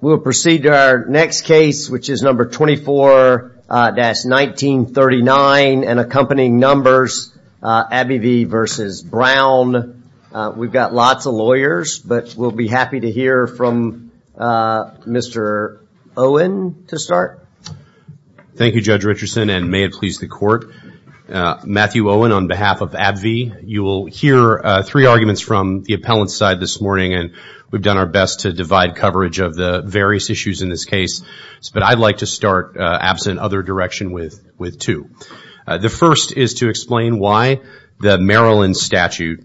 We will proceed to our next case, which is No. 24-1939, and accompanying numbers, AbbVie v. Brown. We've got lots of lawyers, but we'll be happy to hear from Mr. Owen to start. Thank you, Judge Richardson, and may it please the Court. Matthew Owen on behalf of AbbVie. You will hear three arguments from the appellant's side this morning, and we've done our best to divide coverage of the various issues in this case. But I'd like to start, absent other direction, with two. The first is to explain why the Maryland statute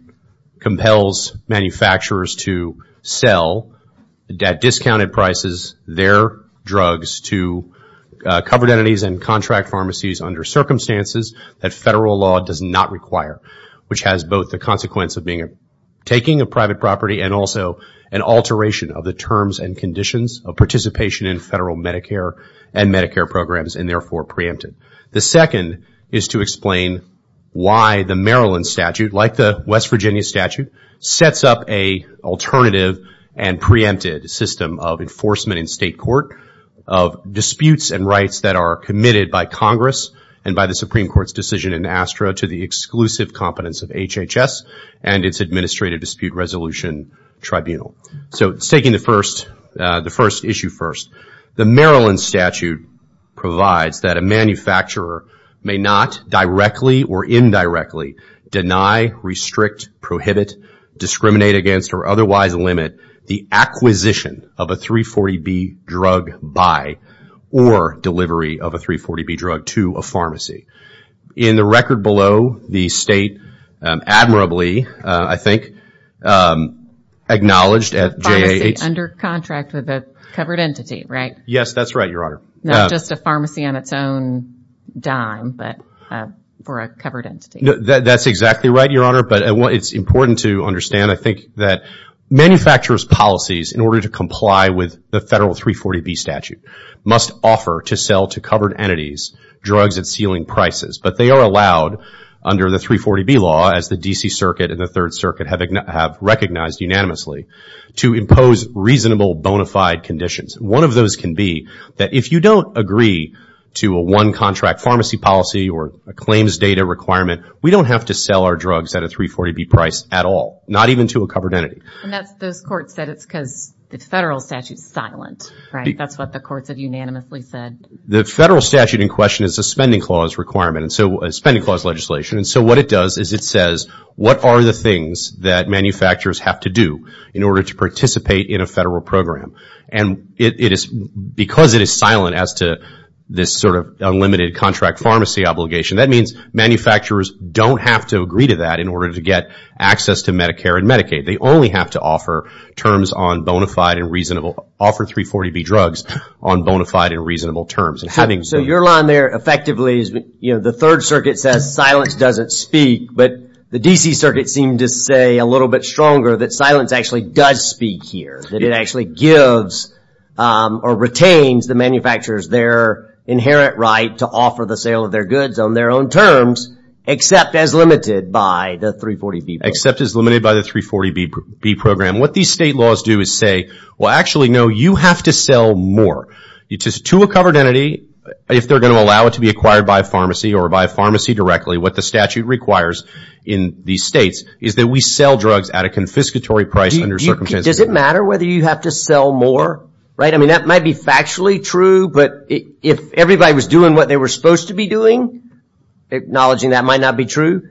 compels manufacturers to sell, at discounted prices, their drugs to covered entities and contract pharmacies under circumstances that federal law does not require, which has both the consequence of taking a private property and also an alteration of the terms and conditions of participation in federal Medicare and Medicare programs, and therefore preempted. The second is to explain why the Maryland statute, like the West Virginia statute, sets up an alternative and preempted system of enforcement in State court of disputes and rights that are committed by Congress and by the Supreme Court's decision in ASTRA to the exclusive competence of HHS and its Administrative Dispute Resolution Tribunal. So, taking the first issue first, the Maryland statute provides that a manufacturer may not directly or indirectly deny, restrict, prohibit, discriminate against, or otherwise limit the acquisition of a 340B drug buy or delivery of a 340B drug to a pharmacy. In the record below, the State admirably, I think, acknowledged at JAH... Pharmacy under contract with a covered entity, right? Yes, that's right, Your Honor. Not just a pharmacy on its own dime, but for a covered entity. That's exactly right, Your Honor, but it's important to understand, I think, that manufacturers' policies in order to comply with the federal 340B statute must offer to sell to covered entities drugs at ceiling prices, but they are allowed under the 340B law, as the D.C. Circuit and the Third Circuit have recognized unanimously, to impose reasonable bona fide conditions. One of those can be that if you don't agree to a one-contract pharmacy policy or a claims data requirement, we don't have to sell our drugs at a 340B price at all, not even to a covered entity. And those courts said it's because the federal statute is silent, right? That's what the courts have unanimously said. The federal statute in question is a spending clause requirement, a spending clause legislation, and so what it does is it says, what are the things that manufacturers have to do in order to participate in a federal program? And because it is silent as to this sort of unlimited contract pharmacy obligation, that means manufacturers don't have to agree to that in order to get access to Medicare and Medicaid. They only have to offer 340B drugs on bona fide and reasonable terms. So your line there effectively is the Third Circuit says silence doesn't speak, but the D.C. Circuit seemed to say a little bit stronger that silence actually does speak here, that it actually gives or retains the manufacturers their inherent right to offer the sale of their goods on their own terms, except as limited by the 340B program. Except as limited by the 340B program. What these state laws do is say, well, actually, no, you have to sell more. To a covered entity, if they're going to allow it to be acquired by a pharmacy or by a pharmacy directly, what the statute requires in these states is that we sell drugs at a confiscatory price under circumstances. Does it matter whether you have to sell more, right? I mean, that might be factually true, but if everybody was doing what they were supposed to be doing, acknowledging that might not be true.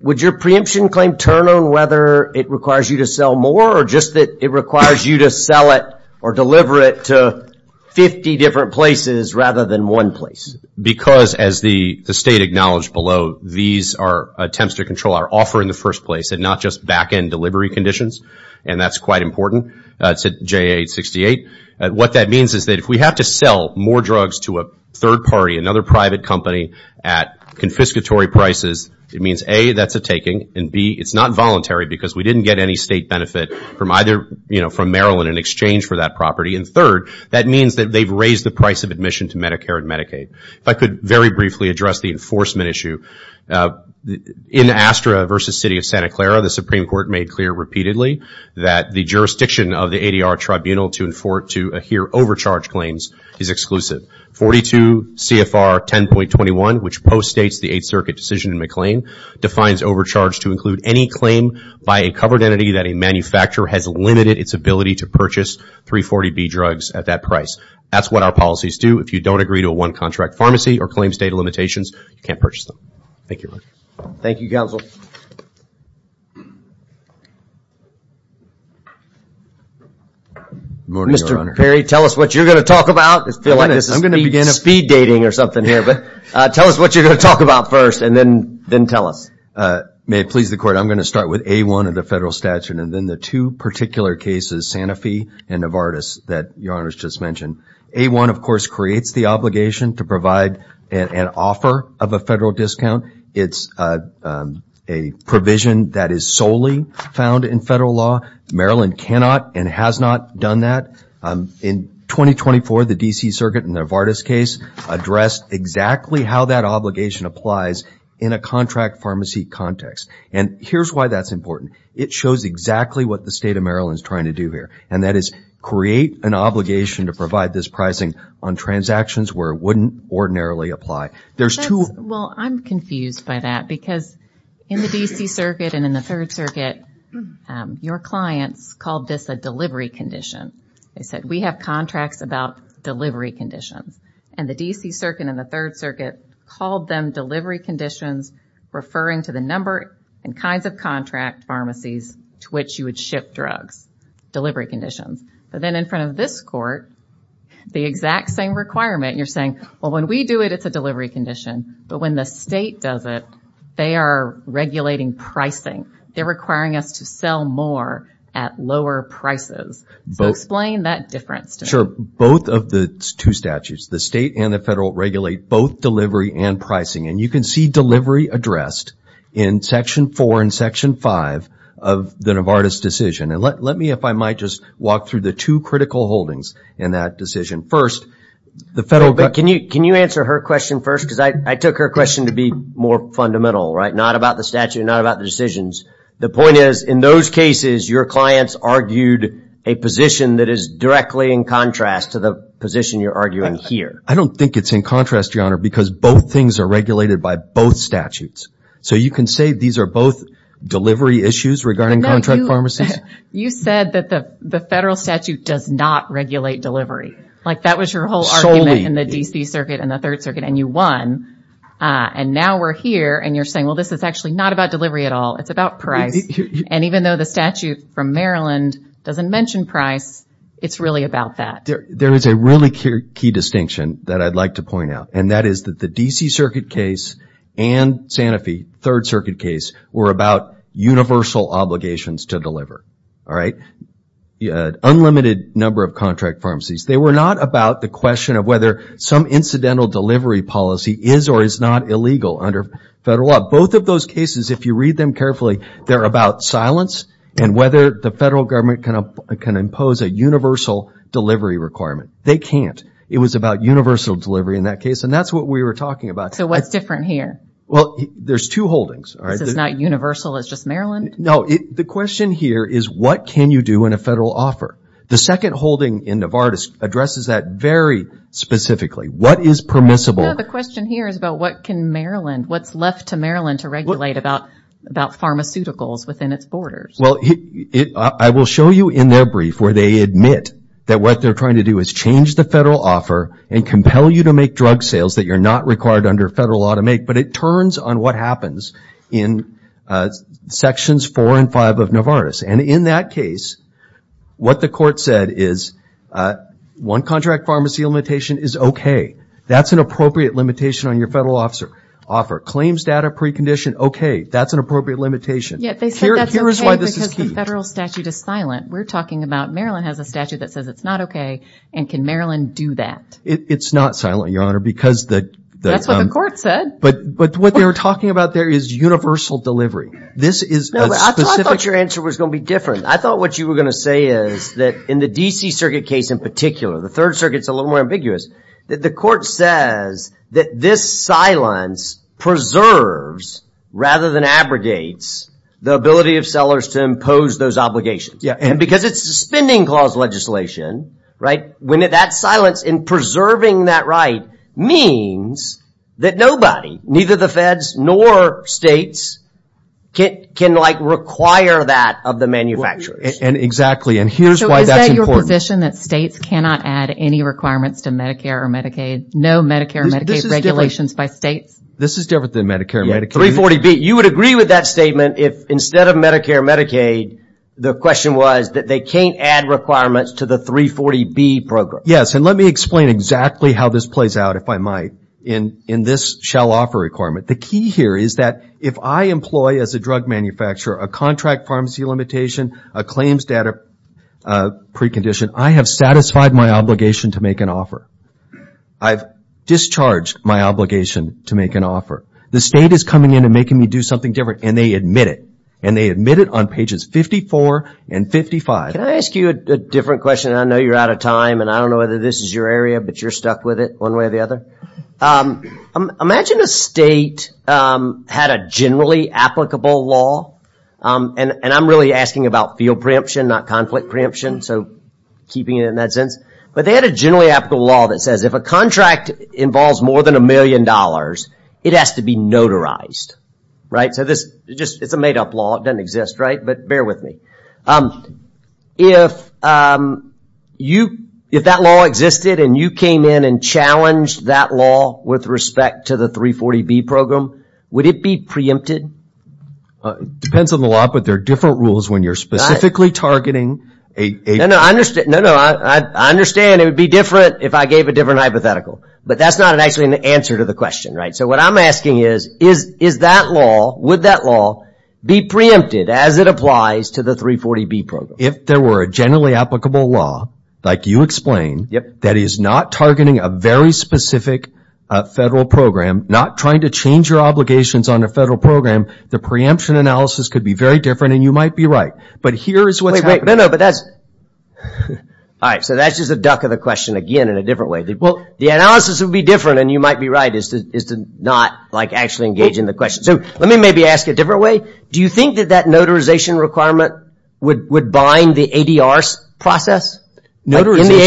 Would your preemption claim turn on whether it requires you to sell more or just that it requires you to sell it or deliver it to 50 different places rather than one place? Because as the state acknowledged below, these are attempts to control our offer in the first place and not just back-end delivery conditions, and that's quite important. It's at JA-868. What that means is that if we have to sell more drugs to a third party, another private company, at confiscatory prices, it means A, that's a taking, and B, it's not voluntary because we didn't get any state benefit from either, you know, from Maryland in exchange for that property. And third, that means that they've raised the price of admission to Medicare and Medicaid. If I could very briefly address the enforcement issue. In Astra versus City of Santa Clara, the Supreme Court made clear repeatedly that the jurisdiction of the ADR Tribunal to adhere overcharge claims is exclusive. 42 CFR 10.21, which post-states the Eighth Circuit decision in McLean, defines overcharge to include any claim by a covered entity that a manufacturer has limited its ability to purchase 340B drugs at that price. That's what our policies do. If you don't agree to a one-contract pharmacy or claim state limitations, you can't purchase them. Thank you. Thank you, Counsel. Good morning, Your Honor. Mr. Perry, tell us what you're going to talk about. I feel like this is speed dating or something here, but tell us what you're going to talk about first and then tell us. May it please the Court, I'm going to start with A-1 of the federal statute and then the two particular cases, Santa Fe and Novartis, that Your Honor has just mentioned. A-1, of course, creates the obligation to provide an offer of a federal discount. It's a provision that is solely found in federal law. Maryland cannot and has not done that. In 2024, the D.C. Circuit in the Novartis case addressed exactly how that obligation applies in a contract pharmacy context. And here's why that's important. It shows exactly what the State of Maryland is trying to do here, and that is create an obligation to provide this pricing on transactions where it wouldn't ordinarily apply. Well, I'm confused by that because in the D.C. Circuit and in the Third Circuit, your clients called this a delivery condition. They said, we have contracts about delivery conditions. And the D.C. Circuit and the Third Circuit called them delivery conditions, referring to the number and kinds of contract pharmacies to which you would ship drugs. Delivery conditions. But then in front of this Court, the exact same requirement, you're saying, well, when we do it, it's a delivery condition. But when the state does it, they are regulating pricing. They're requiring us to sell more at lower prices. So explain that difference to me. Sure. Both of the two statutes, the state and the federal, regulate both delivery and pricing. And you can see delivery addressed in Section 4 and Section 5 of the Novartis decision. And let me, if I might, just walk through the two critical holdings in that decision. Can you answer her question first? Because I took her question to be more fundamental, right? Not about the statute, not about the decisions. The point is, in those cases, your clients argued a position that is directly in contrast to the position you're arguing here. I don't think it's in contrast, Your Honor, because both things are regulated by both statutes. So you can say these are both delivery issues regarding contract pharmacies? You said that the federal statute does not regulate delivery. Like, that was your whole argument in the D.C. Circuit and the Third Circuit, and you won. And now we're here, and you're saying, well, this is actually not about delivery at all. It's about price. And even though the statute from Maryland doesn't mention price, it's really about that. There is a really key distinction that I'd like to point out, and that is that the D.C. Circuit case and Sanofi, Third Circuit case, were about universal obligations to deliver. All right? Unlimited number of contract pharmacies. They were not about the question of whether some incidental delivery policy is or is not illegal under federal law. Both of those cases, if you read them carefully, they're about silence and whether the federal government can impose a universal delivery requirement. They can't. It was about universal delivery in that case, and that's what we were talking about. So what's different here? Well, there's two holdings. This is not universal. It's just Maryland? No. The question here is, what can you do in a federal offer? The second holding in Novartis addresses that very specifically. What is permissible? No, the question here is about what can Maryland, what's left to Maryland to regulate about pharmaceuticals within its borders? Well, I will show you in their brief where they admit that what they're trying to do is change the federal offer and compel you to make drug sales that you're not required under federal law to make, but it turns on what happens in Sections 4 and 5 of Novartis. And in that case, what the court said is one contract pharmacy limitation is okay. That's an appropriate limitation on your federal offer. Claims data precondition, okay, that's an appropriate limitation. Yeah, they said that's okay because the federal statute is silent. We're talking about Maryland has a statute that says it's not okay, and can Maryland do that? It's not silent, Your Honor, because the- That's what the court said. But what they were talking about there is universal delivery. This is a specific- No, but I thought your answer was going to be different. I thought what you were going to say is that in the D.C. Circuit case in particular, the Third Circuit's a little more ambiguous, that the court says that this silence preserves rather than abrogates the ability of sellers to impose those obligations. And because it's suspending clause legislation, right, when that silence in preserving that right means that nobody, neither the feds nor states, can like require that of the manufacturers. And exactly, and here's why that's important. The position that states cannot add any requirements to Medicare or Medicaid, no Medicare or Medicaid regulations by states. This is different than Medicare or Medicaid. 340B, you would agree with that statement if instead of Medicare or Medicaid, the question was that they can't add requirements to the 340B program. Yes, and let me explain exactly how this plays out, if I might, in this shall offer requirement. The key here is that if I employ as a drug manufacturer a contract pharmacy limitation, a claims data precondition, I have satisfied my obligation to make an offer. I've discharged my obligation to make an offer. The state is coming in and making me do something different, and they admit it. And they admit it on pages 54 and 55. Can I ask you a different question? I know you're out of time, and I don't know whether this is your area, but you're stuck with it one way or the other. Imagine a state had a generally applicable law, and I'm really asking about field preemption, not conflict preemption, so keeping it in that sense. But they had a generally applicable law that says if a contract involves more than a million dollars, it has to be notarized, right? It's a made-up law. It doesn't exist, right? But bear with me. If that law existed and you came in and challenged that law with respect to the 340B program, would it be preempted? It depends on the law, but there are different rules when you're specifically targeting. No, no, I understand it would be different if I gave a different hypothetical. But that's not actually an answer to the question, right? So what I'm asking is, is that law, would that law be preempted as it applies to the 340B program? If there were a generally applicable law, like you explained, that is not targeting a very specific federal program, not trying to change your obligations on a federal program, the preemption analysis could be very different, and you might be right. But here is what's happening. Wait, wait, no, no, but that's – all right, so that's just a duck of the question again in a different way. Well, the analysis would be different, and you might be right, as to not actually engage in the question. So let me maybe ask a different way. Do you think that that notarization requirement would bind the ADR process? In the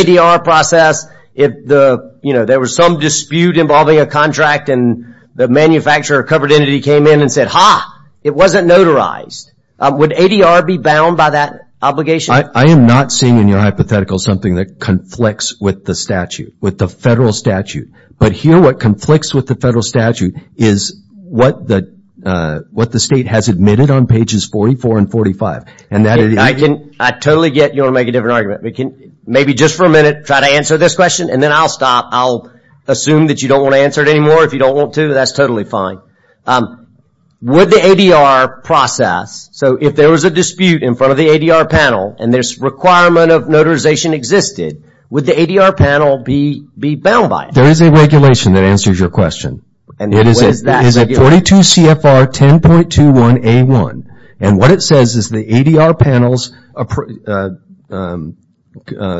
ADR process, if there was some dispute involving a contract and the manufacturer or covered entity came in and said, ha, it wasn't notarized, would ADR be bound by that obligation? I am not seeing in your hypothetical something that conflicts with the statute, with the federal statute. But here what conflicts with the federal statute is what the state has admitted on pages 44 and 45. I totally get you want to make a different argument. Maybe just for a minute, try to answer this question, and then I'll stop. I'll assume that you don't want to answer it anymore. If you don't want to, that's totally fine. Would the ADR process – so if there was a dispute in front of the ADR panel and this requirement of notarization existed, would the ADR panel be bound by it? There is a regulation that answers your question. And what is that regulation? It is 42 CFR 10.21A1, and what it says is the ADR panel's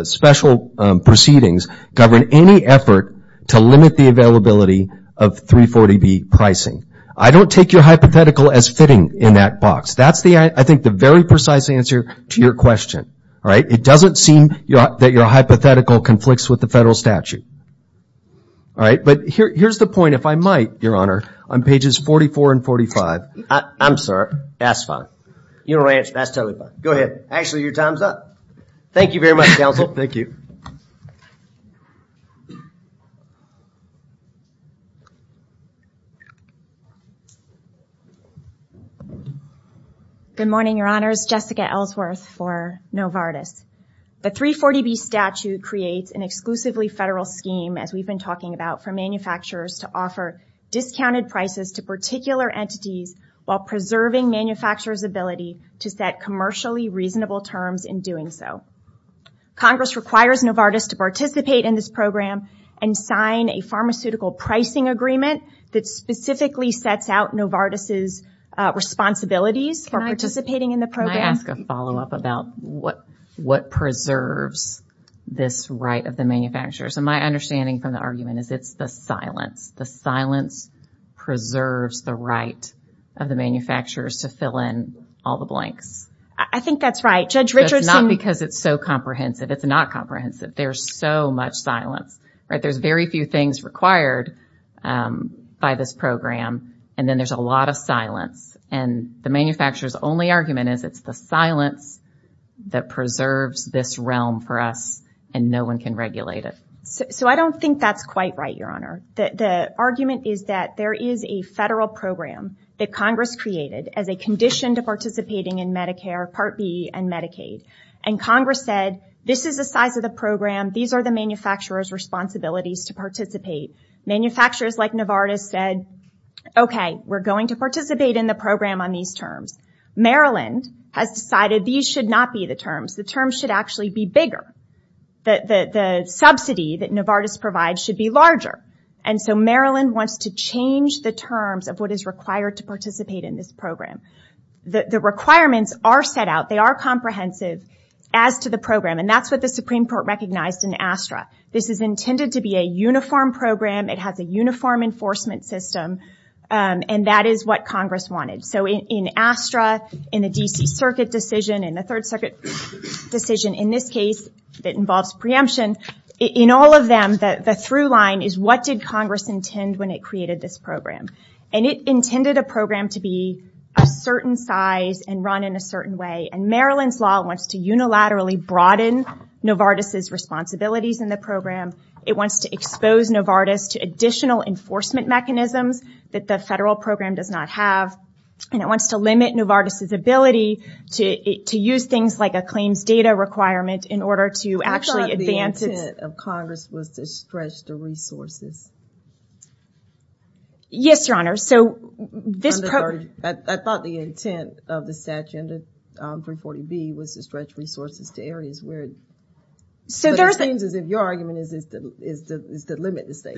special proceedings govern any effort to limit the availability of 340B pricing. I don't take your hypothetical as fitting in that box. That's, I think, the very precise answer to your question. It doesn't seem that your hypothetical conflicts with the federal statute. All right, but here's the point, if I might, Your Honor, on pages 44 and 45. I'm sorry. That's fine. You don't have to answer. That's totally fine. Go ahead. Actually, your time's up. Thank you very much, Counsel. Thank you. Good morning, Your Honors. Jessica Ellsworth for Novartis. The 340B statute creates an exclusively federal scheme, as we've been talking about, for manufacturers to offer discounted prices to particular entities while preserving manufacturers' ability to set commercially reasonable terms in doing so. Congress requires Novartis to participate in this program and sign a pharmaceutical pricing agreement that specifically sets out Novartis' responsibilities for participating in the program. Can I ask a follow-up about what preserves this right of the manufacturers? My understanding from the argument is it's the silence. The silence preserves the right of the manufacturers to fill in all the blanks. I think that's right. Judge Richardson- It's not because it's so comprehensive. It's not comprehensive. There's so much silence. There's very few things required by this program, and then there's a lot of silence. And the manufacturers' only argument is it's the silence that preserves this realm for us, and no one can regulate it. So I don't think that's quite right, Your Honor. The argument is that there is a federal program that Congress created as a condition to participating in Medicare Part B and Medicaid. And Congress said, this is the size of the program. These are the manufacturers' responsibilities to participate. Manufacturers like Novartis said, okay, we're going to participate in the program on these terms. Maryland has decided these should not be the terms. The terms should actually be bigger. The subsidy that Novartis provides should be larger. And so Maryland wants to change the terms of what is required to participate in this program. The requirements are set out. They are comprehensive as to the program, and that's what the Supreme Court recognized in ASTRA. This is intended to be a uniform program. It has a uniform enforcement system, and that is what Congress wanted. So in ASTRA, in the D.C. Circuit decision, in the Third Circuit decision, in this case that involves preemption, in all of them, the through line is what did Congress intend when it created this program. And it intended a program to be a certain size and run in a certain way. And Maryland's law wants to unilaterally broaden Novartis' responsibilities in the program. It wants to expose Novartis to additional enforcement mechanisms that the federal program does not have. And it wants to limit Novartis' ability to use things like a claims data requirement in order to actually advance. I thought the intent of Congress was to stretch the resources. Yes, Your Honor. I thought the intent of the statute under 340B was to stretch resources to areas. But it seems as if your argument is to limit this thing.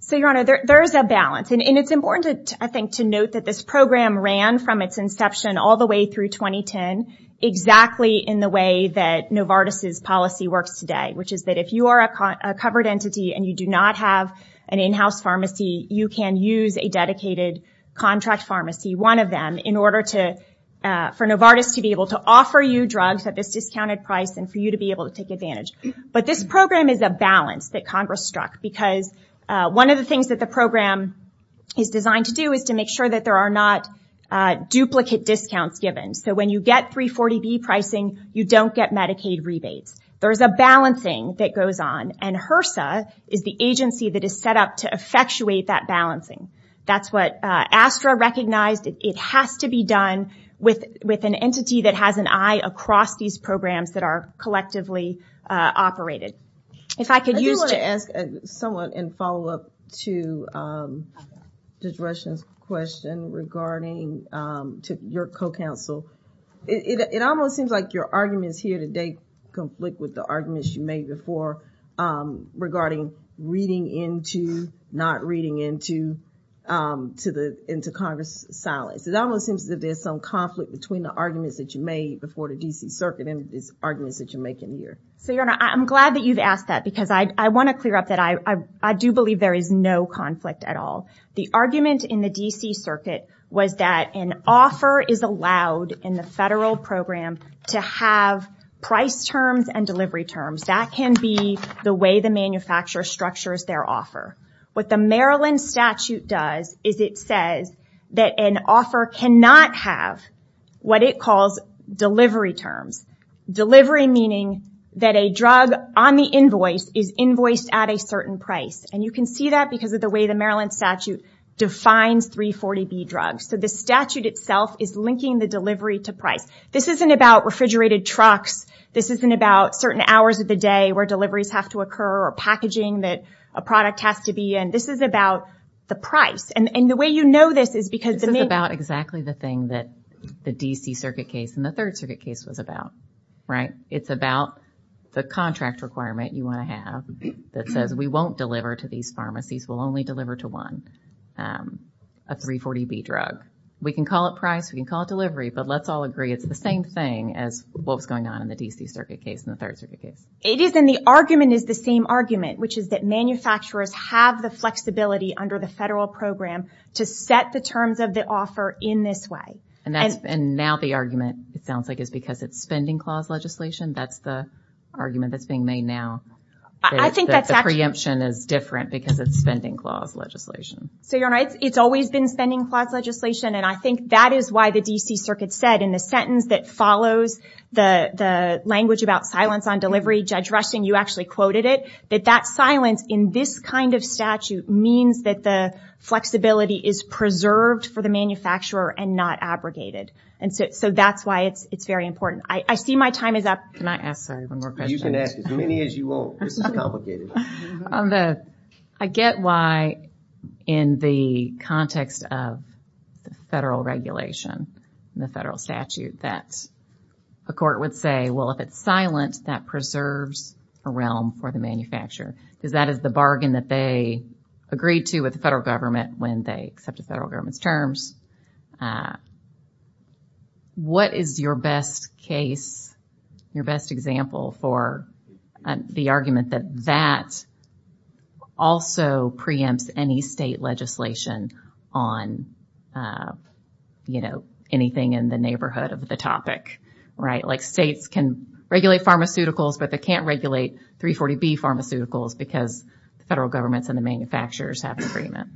So, Your Honor, there is a balance. And it's important, I think, to note that this program ran from its inception all the way through 2010 exactly in the way that Novartis' policy works today, which is that if you are a covered entity and you do not have an in-house pharmacy, you can use a dedicated contract pharmacy, one of them, for Novartis to be able to offer you drugs at this discounted price and for you to be able to take advantage. But this program is a balance that Congress struck because one of the things that the program is designed to do is to make sure that there are not duplicate discounts given. So when you get 340B pricing, you don't get Medicaid rebates. There is a balancing that goes on. And HRSA is the agency that is set up to effectuate that balancing. That's what ASTRA recognized. It has to be done with an entity that has an eye across these programs that are collectively operated. I do want to ask someone and follow up to Judge Rushen's question regarding your co-counsel. It almost seems like your arguments here today conflict with the arguments you made before regarding reading into, not reading into Congress' silence. It almost seems that there's some conflict between the arguments that you made before the D.C. Circuit and these arguments that you're making here. So, Your Honor, I'm glad that you've asked that because I want to clear up that I do believe there is no conflict at all. The argument in the D.C. Circuit was that an offer is allowed in the federal program to have price terms and delivery terms. That can be the way the manufacturer structures their offer. What the Maryland statute does is it says that an offer cannot have what it calls delivery terms. Delivery meaning that a drug on the invoice is invoiced at a certain price. And you can see that because of the way the Maryland statute defines 340B drugs. So the statute itself is linking the delivery to price. This isn't about refrigerated trucks. This isn't about certain hours of the day where deliveries have to occur or packaging that a product has to be in. This is about the price. And the way you know this is because the main... This is about exactly the thing that the D.C. Circuit case and the Third Circuit case was about, right? It's about the contract requirement you want to have that says we won't deliver to these pharmacies. We'll only deliver to one, a 340B drug. We can call it price. We can call it delivery. But let's all agree it's the same thing as what was going on in the D.C. Circuit case and the Third Circuit case. It is, and the argument is the same argument, which is that manufacturers have the flexibility under the federal program to set the terms of the offer in this way. And now the argument, it sounds like, is because it's spending clause legislation. That's the argument that's being made now. The preemption is different because it's spending clause legislation. So you're right. It's always been spending clause legislation, and I think that is why the D.C. Circuit said in the sentence that follows the language about silence on delivery, Judge Rushing, you actually quoted it, that that silence in this kind of statute means that the flexibility is preserved for the manufacturer and not abrogated. And so that's why it's very important. I see my time is up. Can I ask one more question? You can ask as many as you want. This is complicated. I get why in the context of the federal regulation, the federal statute, that a court would say, well, if it's silent, that preserves a realm for the manufacturer. Because that is the bargain that they agreed to with the federal government when they accepted federal government's terms. What is your best case, your best example for the argument that that also preempts any state legislation on, you know, anything in the neighborhood of the topic? Like states can regulate pharmaceuticals, but they can't regulate 340B pharmaceuticals because the federal government and the manufacturers have an agreement.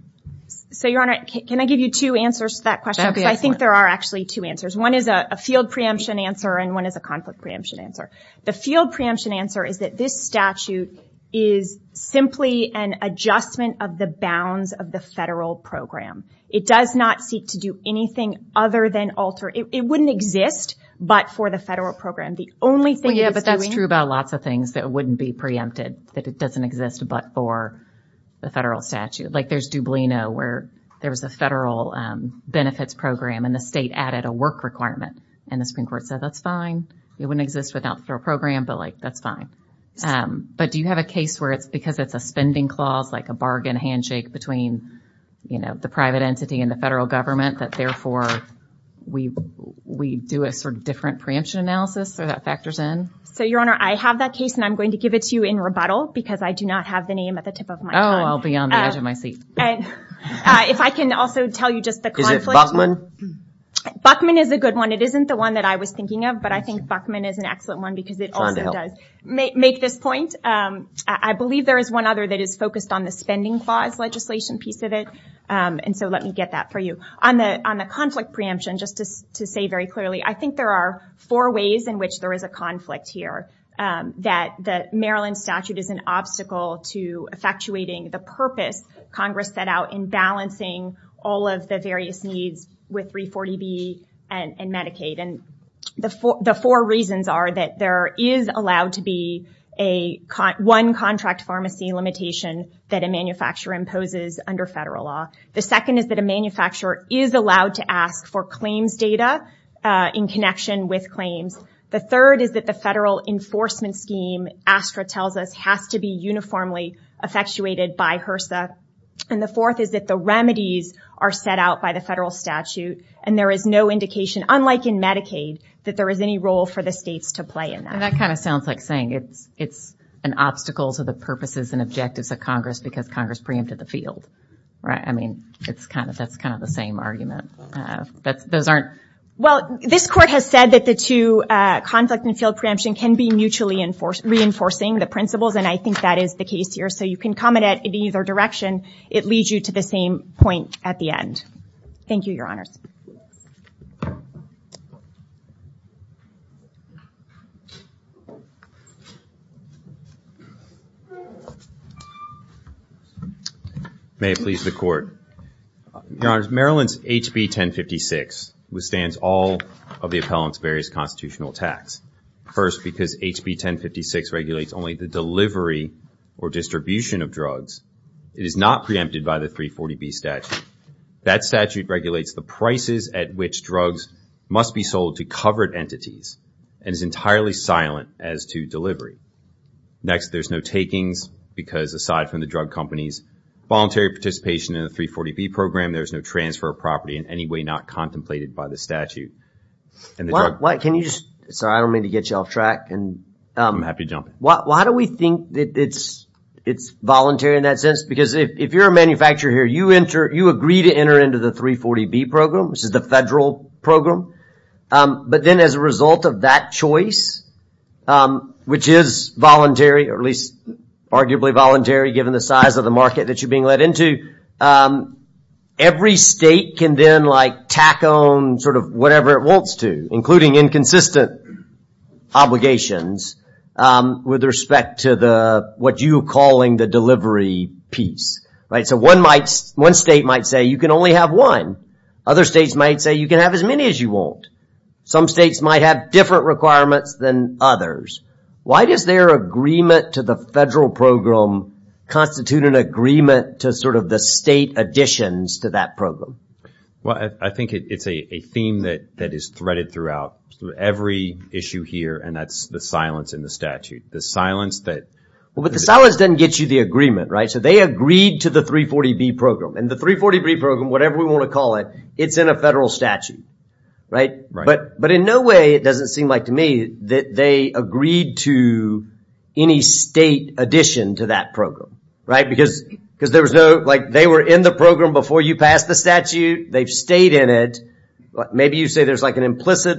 So, Your Honor, can I give you two answers to that question? Because I think there are actually two answers. One is a field preemption answer, and one is a conflict preemption answer. The field preemption answer is that this statute is simply an adjustment of the bounds of the federal program. It does not seek to do anything other than alter. It wouldn't exist but for the federal program. The only thing it's doing... Well, yeah, but that's true about lots of things that wouldn't be preempted, that it doesn't exist but for the federal statute. Like there's Dublino, where there was a federal benefits program, and the state added a work requirement. And the Supreme Court said, that's fine. It wouldn't exist without the federal program, but, like, that's fine. But do you have a case where it's because it's a spending clause, like a bargain handshake between, you know, the private entity and the federal government that, therefore, we do a sort of different preemption analysis or that factors in? So, Your Honor, I have that case, and I'm going to give it to you in rebuttal because I do not have the name at the tip of my tongue. Oh, I'll be on the edge of my seat. If I can also tell you just the conflict... Buckman is a good one. It isn't the one that I was thinking of, but I think Buckman is an excellent one because it also does... To make this point, I believe there is one other that is focused on the spending clause legislation piece of it. And so let me get that for you. On the conflict preemption, just to say very clearly, I think there are four ways in which there is a conflict here. That the Maryland statute is an obstacle to effectuating the purpose Congress set out in balancing all of the various needs with 340B and Medicaid. And the four reasons are that there is allowed to be one contract pharmacy limitation that a manufacturer imposes under federal law. The second is that a manufacturer is allowed to ask for claims data in connection with claims. The third is that the federal enforcement scheme, ASTRA tells us, has to be uniformly effectuated by HRSA. And the fourth is that the remedies are set out by the federal statute. And there is no indication, unlike in Medicaid, that there is any role for the states to play in that. And that kind of sounds like saying it's an obstacle to the purposes and objectives of Congress because Congress preempted the field. I mean, that's kind of the same argument. Those aren't... Well, this court has said that the two, conflict and field preemption, can be mutually reinforcing the principles. And I think that is the case here. So you can come at it in either direction. It leads you to the same point at the end. Thank you, Your Honors. May it please the Court. Your Honors, Maryland's HB 1056 withstands all of the appellant's various constitutional attacks. First, because HB 1056 regulates only the delivery or distribution of drugs. It is not preempted by the 340B statute. That statute regulates the prices at which drugs must be sold to covered entities and is entirely silent as to delivery. Next, there's no takings because, aside from the drug companies' voluntary participation in the 340B program, there's no transfer of property in any way not contemplated by the statute. And the drug... Can you just... Sorry, I don't mean to get you off track. I'm happy to jump in. Why do we think that it's voluntary in that sense? Because if you're a manufacturer here, you agree to enter into the 340B program, which is the federal program. But then as a result of that choice, which is voluntary, or at least arguably voluntary given the size of the market that you're being let into, every state can then, like, tack on sort of whatever it wants to, including inconsistent obligations with respect to what you're calling the delivery piece. So one state might say you can only have one. Other states might say you can have as many as you want. Some states might have different requirements than others. Why does their agreement to the federal program constitute an agreement to sort of the state additions to that program? Well, I think it's a theme that is threaded throughout every issue here, and that's the silence in the statute. The silence that... Well, but the silence doesn't get you the agreement, right? So they agreed to the 340B program. And the 340B program, whatever we want to call it, it's in a federal statute, right? But in no way it doesn't seem like to me that they agreed to any state addition to that program, right? Because there was no... Like, they were in the program before you passed the statute. They've stayed in it. Maybe you say there's like an implicit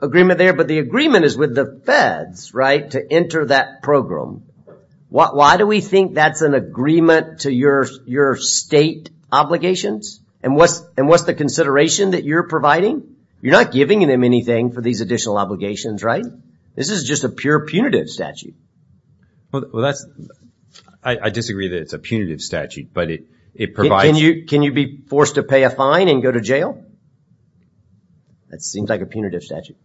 agreement there, but the agreement is with the feds, right, to enter that program. Why do we think that's an agreement to your state obligations? And what's the consideration that you're providing? You're not giving them anything for these additional obligations, right? This is just a pure punitive statute. Well, that's... I disagree that it's a punitive statute, but it provides... Can you be forced to pay a fine and go to jail? That seems like a punitive statute.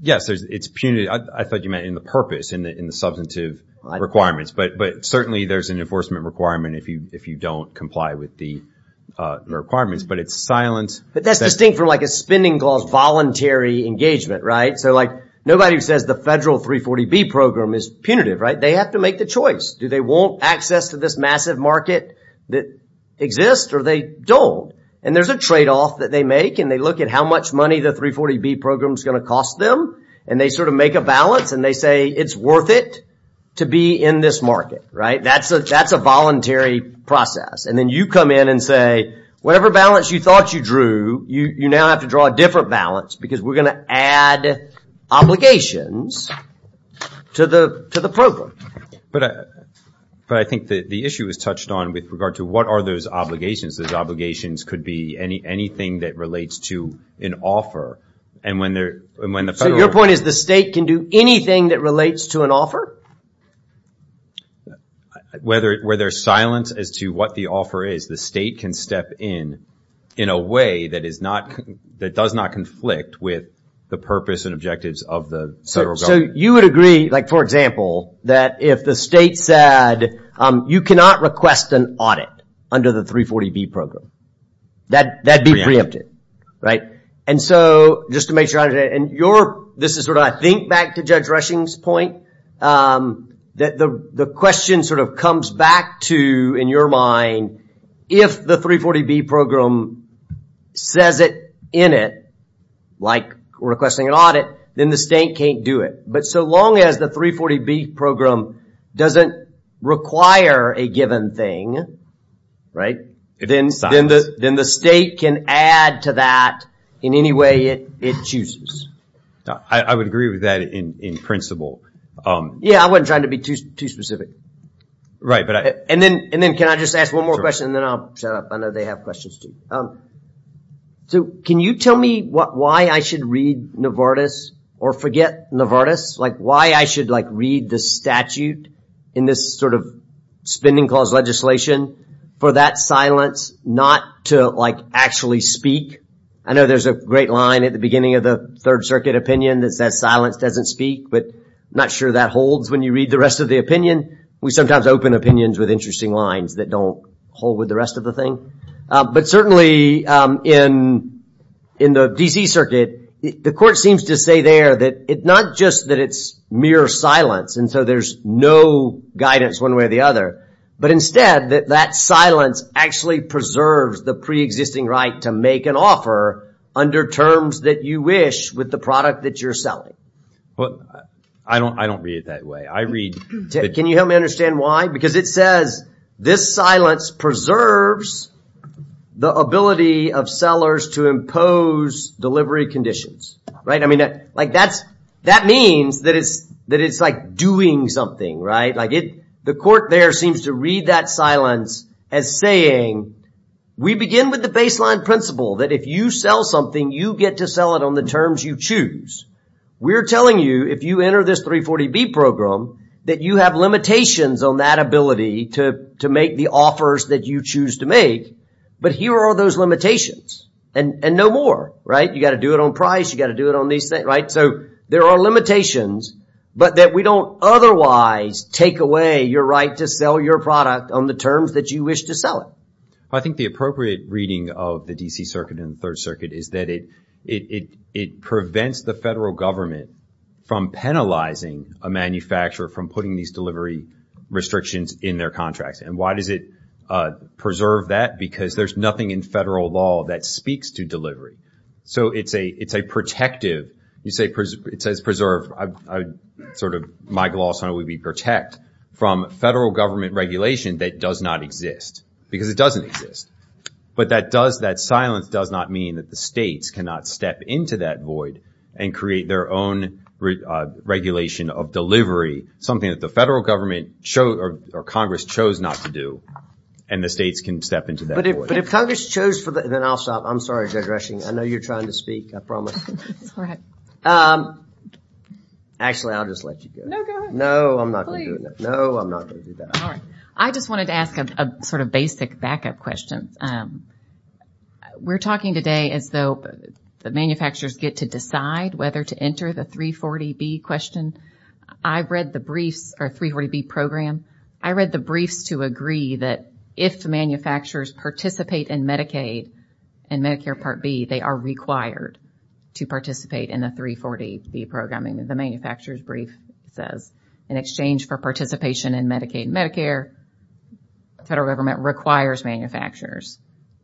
Yes, it's punitive. I thought you meant in the purpose, in the substantive requirements. But certainly there's an enforcement requirement if you don't comply with the requirements. But it's silent. But that's distinct from like a spending clause voluntary engagement, right? So, like, nobody says the federal 340B program is punitive, right? They have to make the choice. Do they want access to this massive market that exists or they don't? And there's a trade-off that they make, and they look at how much money the 340B program is going to cost them, and they sort of make a balance, and they say, it's worth it to be in this market, right? That's a voluntary process. And then you come in and say, whatever balance you thought you drew, you now have to draw a different balance because we're going to add obligations to the program. But I think the issue was touched on with regard to what are those obligations. Those obligations could be anything that relates to an offer. So, your point is the state can do anything that relates to an offer? Whether silence as to what the offer is, the state can step in in a way that does not conflict with the purpose and objectives of the federal government. So, you would agree, like, for example, that if the state said, you cannot request an audit under the 340B program, that'd be preempted, right? And so, just to make sure I understand, and this is sort of, I think, back to Judge Rushing's point, that the question sort of comes back to, in your mind, if the 340B program says it in it, like requesting an audit, then the state can't do it. But so long as the 340B program doesn't require a given thing, right? Then the state can add to that in any way it chooses. I would agree with that in principle. Yeah, I wasn't trying to be too specific. Right, but I... And then can I just ask one more question, and then I'll shut up, I know they have questions too. So, can you tell me why I should read Novartis or forget Novartis? Like, why I should, like, read the statute in this sort of spending clause legislation for that silence not to, like, actually speak? I know there's a great line at the beginning of the Third Circuit opinion that says silence doesn't speak, but I'm not sure that holds when you read the rest of the opinion. We sometimes open opinions with interesting lines that don't hold with the rest of the thing. But certainly, in the D.C. Circuit, the court seems to say there that it's not just that it's mere silence, and so there's no guidance one way or the other. But instead, that silence actually preserves the pre-existing right to make an offer under terms that you wish with the product that you're selling. I don't read it that way. I read... Can you help me understand why? Because it says this silence preserves the ability of sellers to impose delivery conditions. Right? I mean, like, that means that it's like doing something, right? Like, the court there seems to read that silence as saying, we begin with the baseline principle that if you sell something, you get to sell it on the terms you choose. We're telling you, if you enter this 340B program, that you have limitations on that ability to make the offers that you choose to make. But here are those limitations. And no more, right? You got to do it on price. You got to do it on these things, right? So there are limitations, but that we don't otherwise take away your right to sell your product on the terms that you wish to sell it. I think the appropriate reading of the D.C. Circuit and Third Circuit is that it prevents the federal government from penalizing a manufacturer from putting these delivery restrictions in their contracts. And why does it preserve that? Because there's nothing in federal law that speaks to delivery. So it's a protective. It says preserve. Sort of my gloss on it would be protect from federal government regulation that does not exist, because it doesn't exist. But that silence does not mean that the states cannot step into that void and create their own regulation of delivery, something that the federal government or Congress chose not to do, and the states can step into that void. But if Congress chose... Then I'll stop. I'm sorry, Judge Rushing. I know you're trying to speak. I promise. Go ahead. Actually, I'll just let you do it. No, go ahead. No, I'm not going to do that. No, I'm not going to do that. All right. I just wanted to ask a sort of basic backup question. We're talking today as though the manufacturers get to decide whether to enter the 340B question. I've read the briefs, or 340B program. I read the briefs to agree that if manufacturers participate in Medicaid and Medicare Part B, they are required to participate in the 340B programming. The manufacturer's brief says, in exchange for participation in Medicaid and Medicare, the federal government requires manufacturers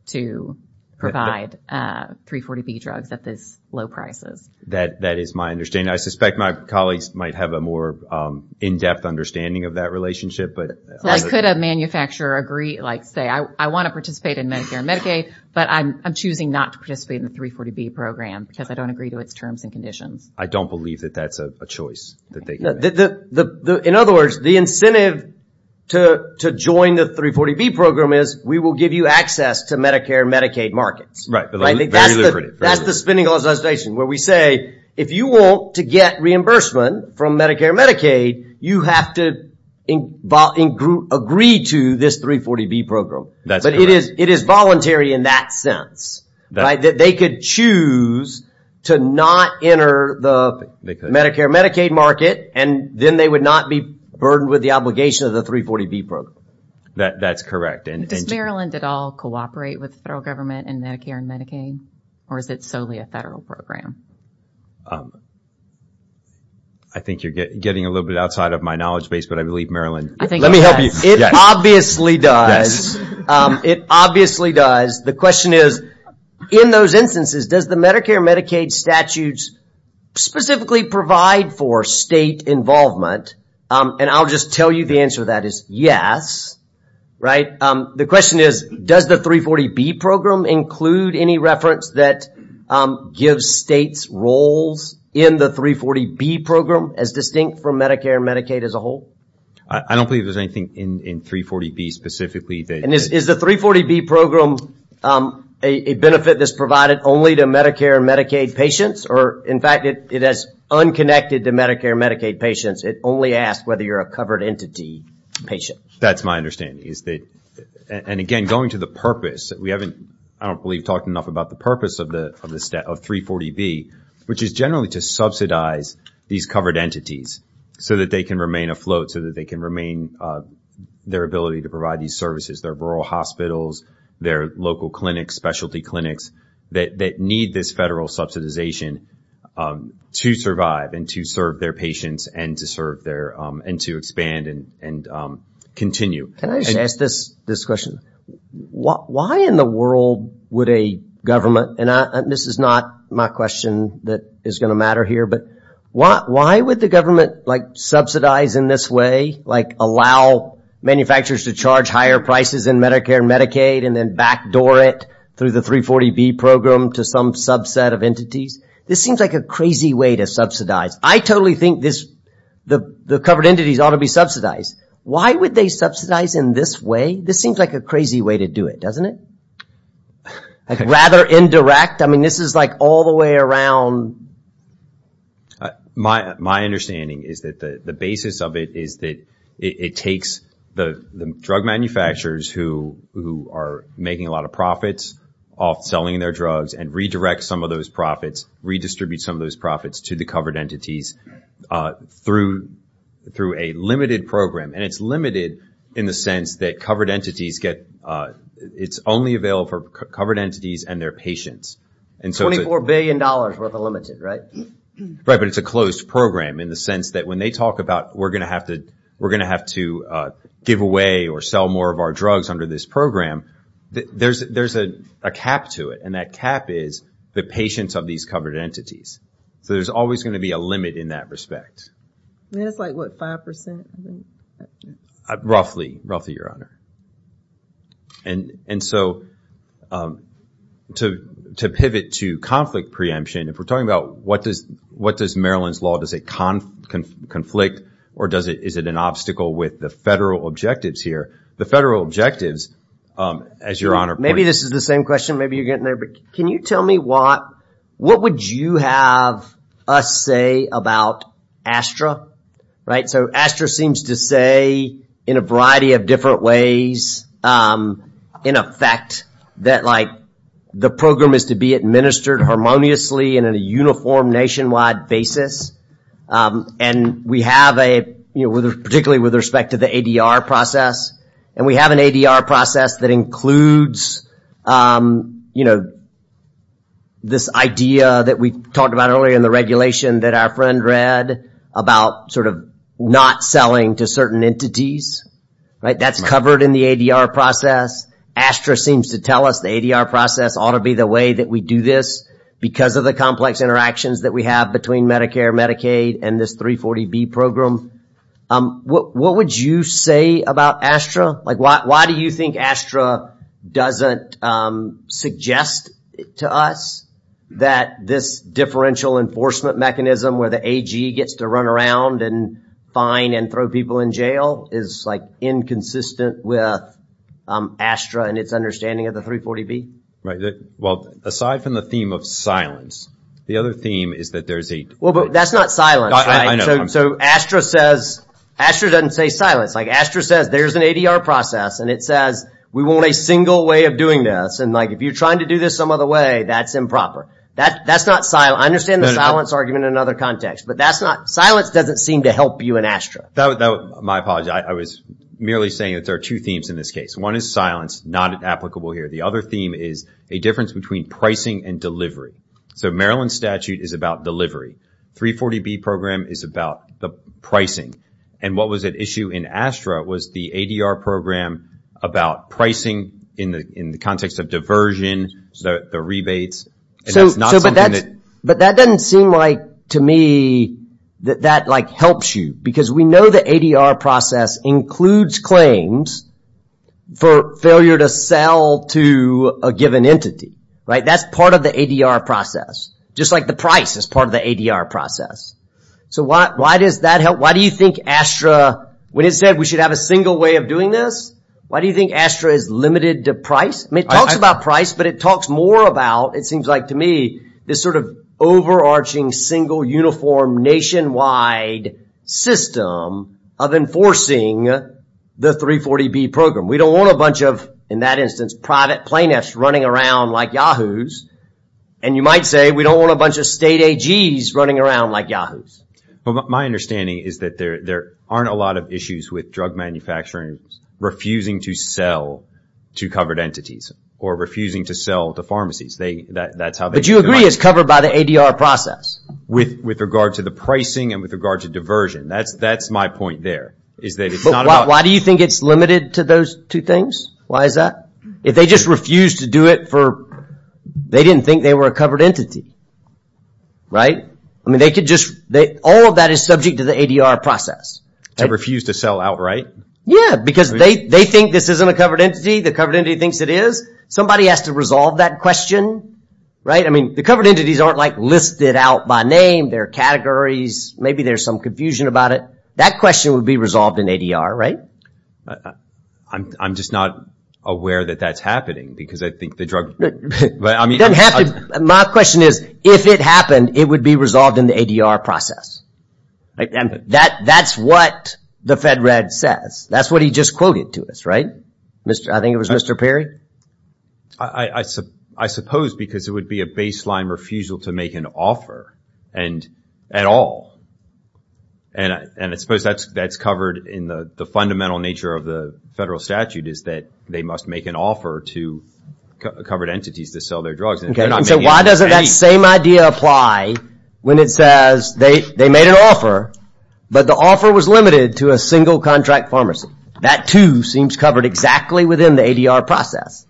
to provide 340B drugs at these low prices. That is my understanding. I suspect my colleagues might have a more in-depth understanding of that relationship. Could a manufacturer say, I want to participate in Medicare and Medicaid, but I'm choosing not to participate in the 340B program because I don't agree to its terms and conditions? I don't believe that that's a choice. In other words, the incentive to join the 340B program is we will give you access to Medicare and Medicaid markets. Right. That's the spending legislation where we say, if you want to get reimbursement from Medicare and Medicaid, you have to agree to this 340B program. But it is voluntary in that sense. They could choose to not enter the Medicare and Medicaid market, and then they would not be burdened with the obligation of the 340B program. That's correct. Does Maryland at all cooperate with the federal government in Medicare and Medicaid, or is it solely a federal program? I think you're getting a little bit outside of my knowledge base, but I believe Maryland. Let me help you. It obviously does. It obviously does. The question is, in those instances, does the Medicare and Medicaid statutes specifically provide for state involvement? And I'll just tell you the answer to that is yes. Right. The question is, does the 340B program include any reference that gives states roles in the 340B program as distinct from Medicare and Medicaid as a whole? I don't believe there's anything in 340B specifically. Is the 340B program a benefit that's provided only to Medicare and Medicaid patients, or, in fact, it is unconnected to Medicare and Medicaid patients? It only asks whether you're a covered entity patient. That's my understanding. And, again, going to the purpose, we haven't, I don't believe, talked enough about the purpose of 340B, which is generally to subsidize these covered entities so that they can remain afloat, so that they can remain their ability to provide these services, their rural hospitals, their local clinics, specialty clinics, that need this federal subsidization to survive and to serve their patients and to expand and continue. Can I just ask this question? Why in the world would a government, and this is not my question that is going to matter here, but why would the government subsidize in this way, like allow manufacturers to charge higher prices in Medicare and Medicaid and then backdoor it through the 340B program to some subset of entities? This seems like a crazy way to subsidize. I totally think the covered entities ought to be subsidized. Why would they subsidize in this way? This seems like a crazy way to do it, doesn't it? Rather indirect. I mean, this is like all the way around. My understanding is that the basis of it is that it takes the drug manufacturers who are making a lot of profits off selling their drugs and redirects some of those profits, redistributes some of those profits to the covered entities through a limited program. And it's limited in the sense that covered entities get, it's only available for covered entities and their patients. $24 billion worth of limited, right? Right, but it's a closed program in the sense that when they talk about we're going to have to give away or sell more of our drugs under this program, there's a cap to it. And that cap is the patients of these covered entities. So there's always going to be a limit in that respect. And that's like what, 5%? Roughly, roughly, Your Honor. And so to pivot to conflict preemption, if we're talking about what does Maryland's law, does it conflict or is it an obstacle with the federal objectives here? The federal objectives, as Your Honor pointed out. Maybe this is the same question, maybe you're getting there, but can you tell me what, what would you have us say about ASTRA? So ASTRA seems to say in a variety of different ways, in effect, that the program is to be administered harmoniously and in a uniform nationwide basis. And we have a, particularly with respect to the ADR process, and we have an ADR process that includes this idea that we talked about earlier in the regulation that our friend read about not selling to certain entities. That's covered in the ADR process. ASTRA seems to tell us the ADR process ought to be the way that we do this because of the complex interactions that we have between Medicare and Medicaid and this 340B program. What would you say about ASTRA? Like, why do you think ASTRA doesn't suggest to us that this differential enforcement mechanism where the AG gets to run around and fine and throw people in jail is, like, inconsistent with ASTRA and its understanding of the 340B? Well, aside from the theme of silence, the other theme is that there's a... Well, but that's not silence, right? So ASTRA says, ASTRA doesn't say silence. Like, ASTRA says there's an ADR process, and it says we want a single way of doing this, and, like, if you're trying to do this some other way, that's improper. That's not silence. I understand the silence argument in another context, but that's not... Silence doesn't seem to help you in ASTRA. My apologies. I was merely saying that there are two themes in this case. One is silence, not applicable here. The other theme is a difference between pricing and delivery. So Maryland statute is about delivery. 340B program is about the pricing. And what was at issue in ASTRA was the ADR program about pricing in the context of diversion, the rebates. So, but that doesn't seem like, to me, that that, like, helps you. Because we know the ADR process includes claims for failure to sell to a given entity, right? That's part of the ADR process. Just like the price is part of the ADR process. So why does that help? Why do you think ASTRA, when it said we should have a single way of doing this, why do you think ASTRA is limited to price? I mean, it talks about price, but it talks more about, it seems like to me, this sort of overarching single uniform nationwide system of enforcing the 340B program. We don't want a bunch of, in that instance, private plaintiffs running around like yahoos. And you might say, we don't want a bunch of state AGs running around like yahoos. But my understanding is that there aren't a lot of issues with drug manufacturers refusing to sell to covered entities or refusing to sell to pharmacies. That's how they do it. But you agree it's covered by the ADR process? With regard to the pricing and with regard to diversion. That's my point there. Why do you think it's limited to those two things? Why is that? If they just refuse to do it for, they didn't think they were a covered entity, right? All of that is subject to the ADR process. They refuse to sell outright? Yeah, because they think this isn't a covered entity. The covered entity thinks it is. Somebody has to resolve that question. The covered entities aren't listed out by name. There are categories. Maybe there's some confusion about it. That question would be resolved in ADR, right? I'm just not aware that that's happening, because I think the drug... It doesn't have to. My question is, if it happened, it would be resolved in the ADR process. That's what the Fed Red says. That's what he just quoted to us, right? I think it was Mr. Perry? I suppose because it would be a baseline refusal to make an offer at all. And I suppose that's covered in the fundamental nature of the federal statute is that they must make an offer to covered entities to sell their drugs. So why doesn't that same idea apply when it says they made an offer, but the offer was limited to a single contract pharmacy? That too seems covered exactly within the ADR process.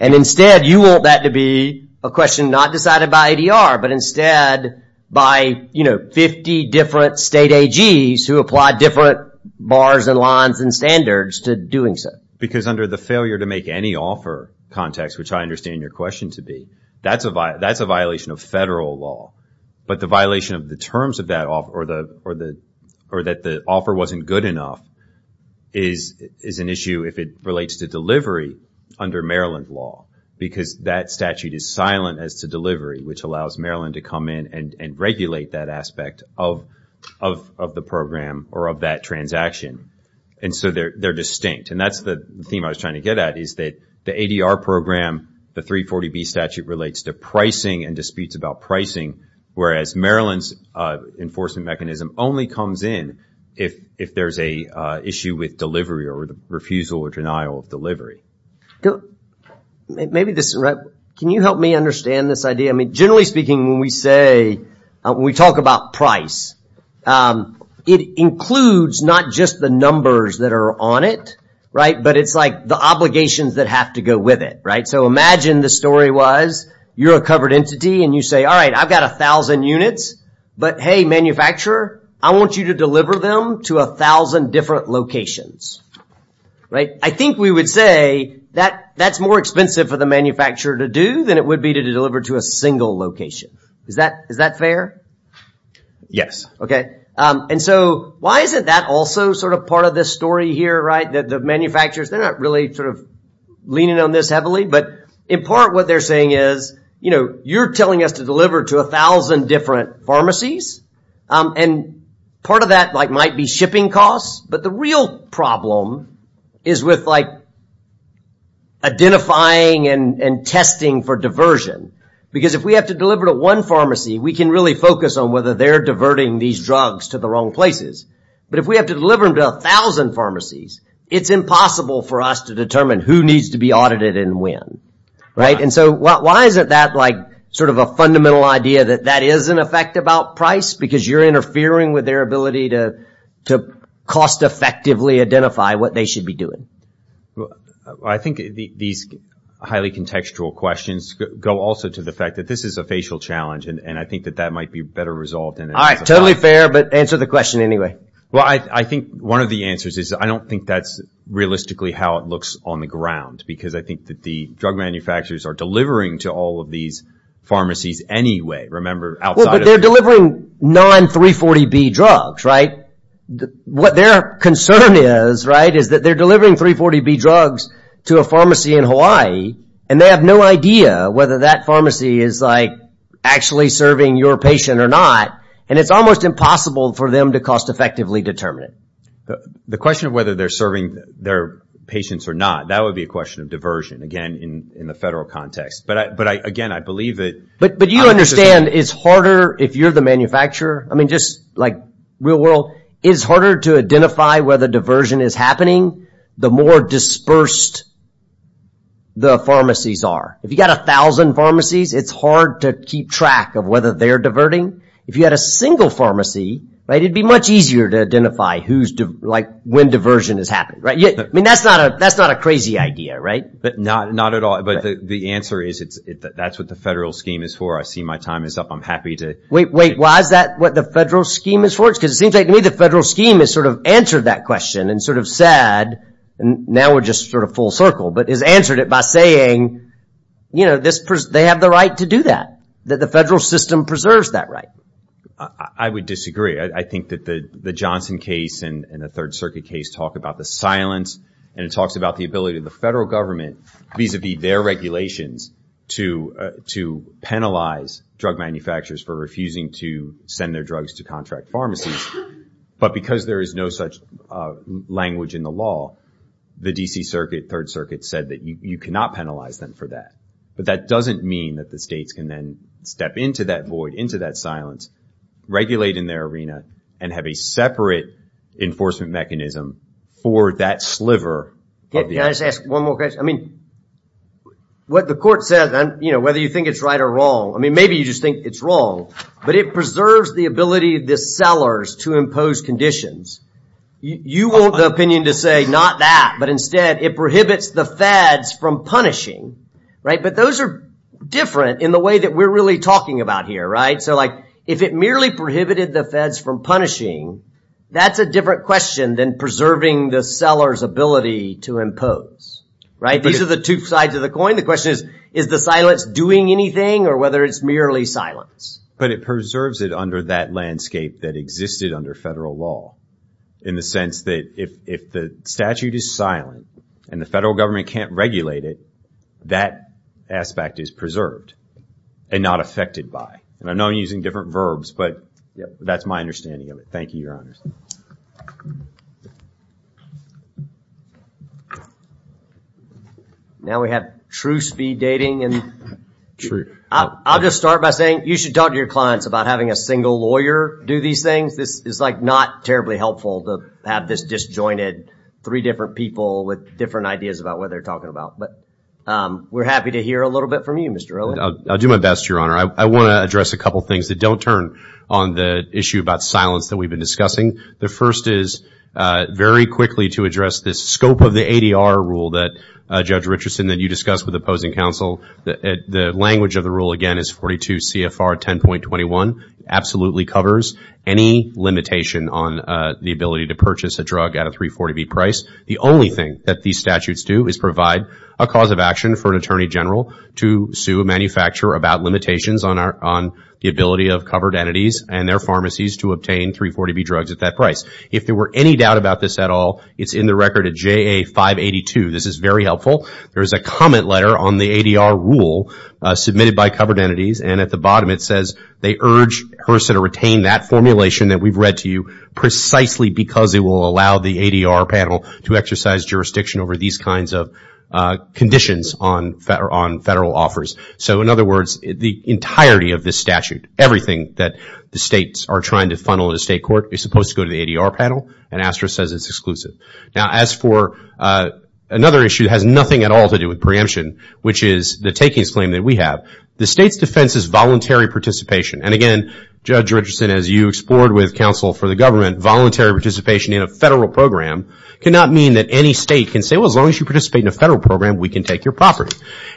And instead, you want that to be a question not decided by ADR, but instead by 50 different state AGs who apply different bars and lines and standards to doing so. Because under the failure to make any offer context, which I understand your question to be, that's a violation of federal law. But the violation of the terms of that offer or that the offer wasn't good enough is an issue if it relates to delivery under Maryland law. Because that statute is silent as to delivery, which allows Maryland to come in and regulate that aspect of the program or of that transaction. And so they're distinct. And that's the theme I was trying to get at is that the ADR program, the 340B statute relates to pricing and disputes about pricing, whereas Maryland's enforcement mechanism only comes in if there's an issue with delivery or the refusal or denial of delivery. Can you help me understand this idea? Generally speaking, when we talk about price, it includes not just the numbers that are on it, but it's like the obligations that have to go with it. So imagine the story was you're a covered entity and you say, all right, I've got 1,000 units, but hey, manufacturer, I want you to deliver them to 1,000 different locations. I think we would say that's more expensive for the manufacturer to do than it would be to deliver to a single location. Is that fair? Yes. And so why isn't that also sort of part of this story here? The manufacturers, they're not really sort of leaning on this heavily, but in part what they're saying is you're telling us to deliver to 1,000 different pharmacies and part of that might be shipping costs, but the real problem is with identifying and testing for diversion. Because if we have to deliver to one pharmacy, we can really focus on whether they're diverting these drugs to the wrong places. But if we have to deliver them to 1,000 pharmacies, it's impossible for us to determine who needs to be audited and when. And so why isn't that sort of a fundamental idea that that is an effect about price? Because you're interfering with their ability to cost-effectively identify what they should be doing. I think these highly contextual questions go also to the fact that this is a facial challenge and I think that that might be better resolved. All right, totally fair, but answer the question anyway. Well, I think one of the answers is I don't think that's realistically how it looks on the ground because I think that the drug manufacturers are delivering to all of these pharmacies anyway. Remember, outside of... Well, but they're delivering non-340B drugs, right? What their concern is, right, is that they're delivering 340B drugs to a pharmacy in Hawaii and they have no idea whether that pharmacy is like actually serving your patient or not. And it's almost impossible for them to cost-effectively determine it. The question of whether they're serving their patients or not, that would be a question of diversion, again, in the federal context. But again, I believe that... But you understand it's harder if you're the manufacturer. I mean, just like real world, it's harder to identify whether diversion is happening the more dispersed the pharmacies are. If you've got a thousand pharmacies, it's hard to keep track of whether they're diverting. If you had a single pharmacy, it'd be much easier to identify when diversion has happened. I mean, that's not a crazy idea, right? Not at all, but the answer is that's what the federal scheme is for. I see my time is up. I'm happy to... Wait, wait, why is that what the federal scheme is for? Because it seems like to me the federal scheme has sort of answered that question and sort of said, and now we're just sort of full circle, but has answered it by saying, you know, they have the right to do that, that the federal system preserves that right. I would disagree. I think that the Johnson case and the Third Circuit case talk about the silence, and it talks about the ability of the federal government vis-a-vis their regulations to penalize drug manufacturers for refusing to send their drugs to contract pharmacies. But because there is no such language in the law, the D.C. Circuit, Third Circuit, said that you cannot penalize them for that. But that doesn't mean that the states can then step into that void, into that silence, regulate in their arena, and have a separate enforcement mechanism for that sliver... Can I just ask one more question? I mean, what the court says, you know, whether you think it's right or wrong, I mean, maybe you just think it's wrong, but it preserves the ability of the sellers to impose conditions. You want the opinion to say not that, but instead it prohibits the feds from punishing, right? But those are different in the way that we're really talking about here, right? So, like, if it merely prohibited the feds from punishing, that's a different question than preserving the seller's ability to impose, right? These are the two sides of the coin. The question is, is the silence doing anything, or whether it's merely silence? But it preserves it under that landscape that existed under federal law, in the sense that if the statute is silent and the federal government can't regulate it, that aspect is preserved and not affected by. And I know I'm using different verbs, but that's my understanding of it. Thank you, Your Honors. Now we have true speed dating. I'll just start by saying you should talk to your clients about having a single lawyer do these things. This is, like, not terribly helpful to have this disjointed, three different people with different ideas about what they're talking about. But we're happy to hear a little bit from you, Mr. Rowland. I'll do my best, Your Honor. I want to address a couple things that don't turn on the issue about silence that we've been discussing. The first is, very quickly, to address this scope of the ADR rule that, Judge Richardson, that you discussed with opposing counsel. The language of the rule, again, is 42 CFR 10.21. It absolutely covers any limitation on the ability to purchase a drug at a 340B price. The only thing that these statutes do is provide a cause of action for an attorney general to sue a manufacturer about limitations on the ability of covered entities and their pharmacies to obtain 340B drugs at that price. If there were any doubt about this at all, it's in the record at JA 582. This is very helpful. There is a comment letter on the ADR rule submitted by covered entities, and at the bottom it says they urge HRSA to retain that formulation that we've read to you precisely because it will allow the ADR panel to exercise jurisdiction over these kinds of conditions on federal offers. In other words, the entirety of this statute, everything that the states are trying to funnel to the state court, is supposed to go to the ADR panel, and ASTRA says it's exclusive. As for another issue that has nothing at all to do with preemption, which is the takings claim that we have, the state's defense is voluntary participation. And again, Judge Richardson, as you explored with counsel for the government, voluntary participation in a federal program cannot mean that any state can say, well, as long as you participate in a federal program, we can take your property.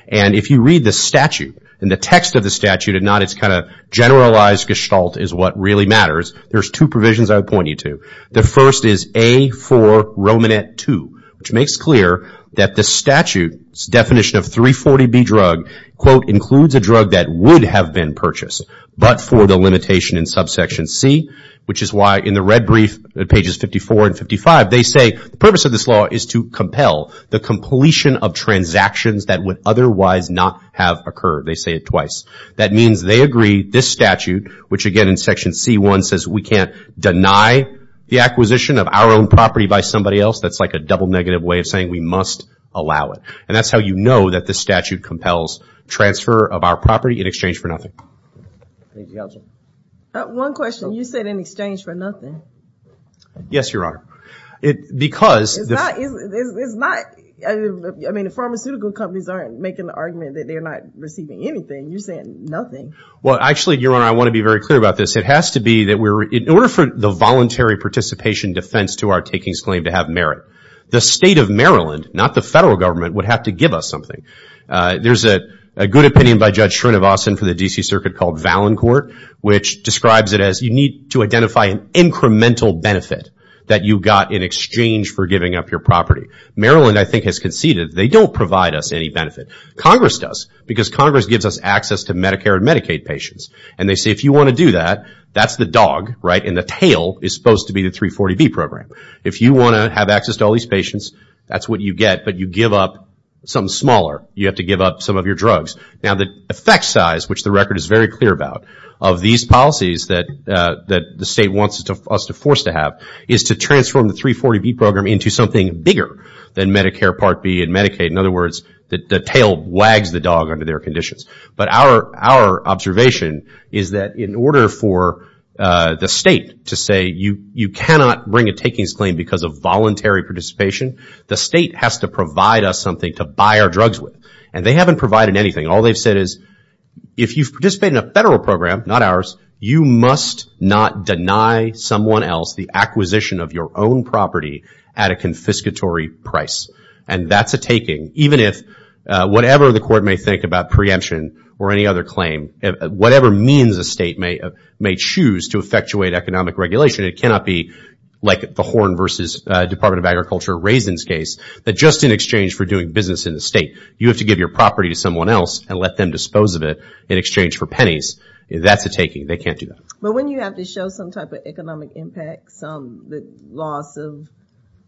And if you read the statute, and the text of the statute, and not its kind of generalized gestalt is what really matters, there's two provisions I would point you to. The first is A4 Romanet 2, which makes clear that the statute's definition of 340B drug, quote, includes a drug that would have been purchased, but for the limitation in subsection C, which is why in the red brief, pages 54 and 55, they say the purpose of this law is to compel the completion of transactions that would otherwise not have occurred. They say it twice. That means they agree this statute, which again in section C1 says we can't deny the acquisition of our own property by somebody else. That's like a double negative way of saying we must allow it. And that's how you know that this statute compels transfer of our property in exchange for nothing. One question. You said in exchange for nothing. Yes, Your Honor. Because... It's not... I mean, the pharmaceutical companies aren't making the argument that they're not receiving anything. You're saying nothing. Well, actually, Your Honor, I want to be very clear about this. It has to be that we're... In order for the voluntary participation defense to our takings claim to have merit, the state of Maryland, not the federal government, would have to give us something. There's a good opinion by Judge Shrinivasan for the D.C. Circuit called Valancourt, which describes it as you need to identify an incremental benefit that you got in exchange for giving up your property. Maryland, I think, has conceded they don't provide us any benefit. Congress does, because Congress gives us access to Medicare and Medicaid patients. And they say if you want to do that, that's the dog, right? And the tail is supposed to be the 340B program. If you want to have access to all these patients, that's what you get, but you give up something smaller. You have to give up some of your drugs. Now, the effect size, which the record is very clear about, of these policies that the state wants us to force to have is to transform the 340B program into something bigger than Medicare Part B and Medicaid. In other words, the tail wags the dog under their conditions. But our observation is that in order for the state to say you cannot bring a takings claim because of voluntary participation, the state has to provide us something to buy our drugs with. And they haven't provided anything. All they've said is if you've participated in a federal program, not ours, you must not deny someone else the acquisition of your own property at a confiscatory price. And that's a taking, even if whatever the court may think about preemption or any other claim, whatever means a state may choose to effectuate economic regulation, it cannot be like the Horn v. Department of Agriculture Raisins case that just in exchange for doing business in the state, you have to give your property to someone else and let them dispose of it in exchange for pennies. That's a taking. They can't do that. But when you have to show some type of economic impact, some loss of,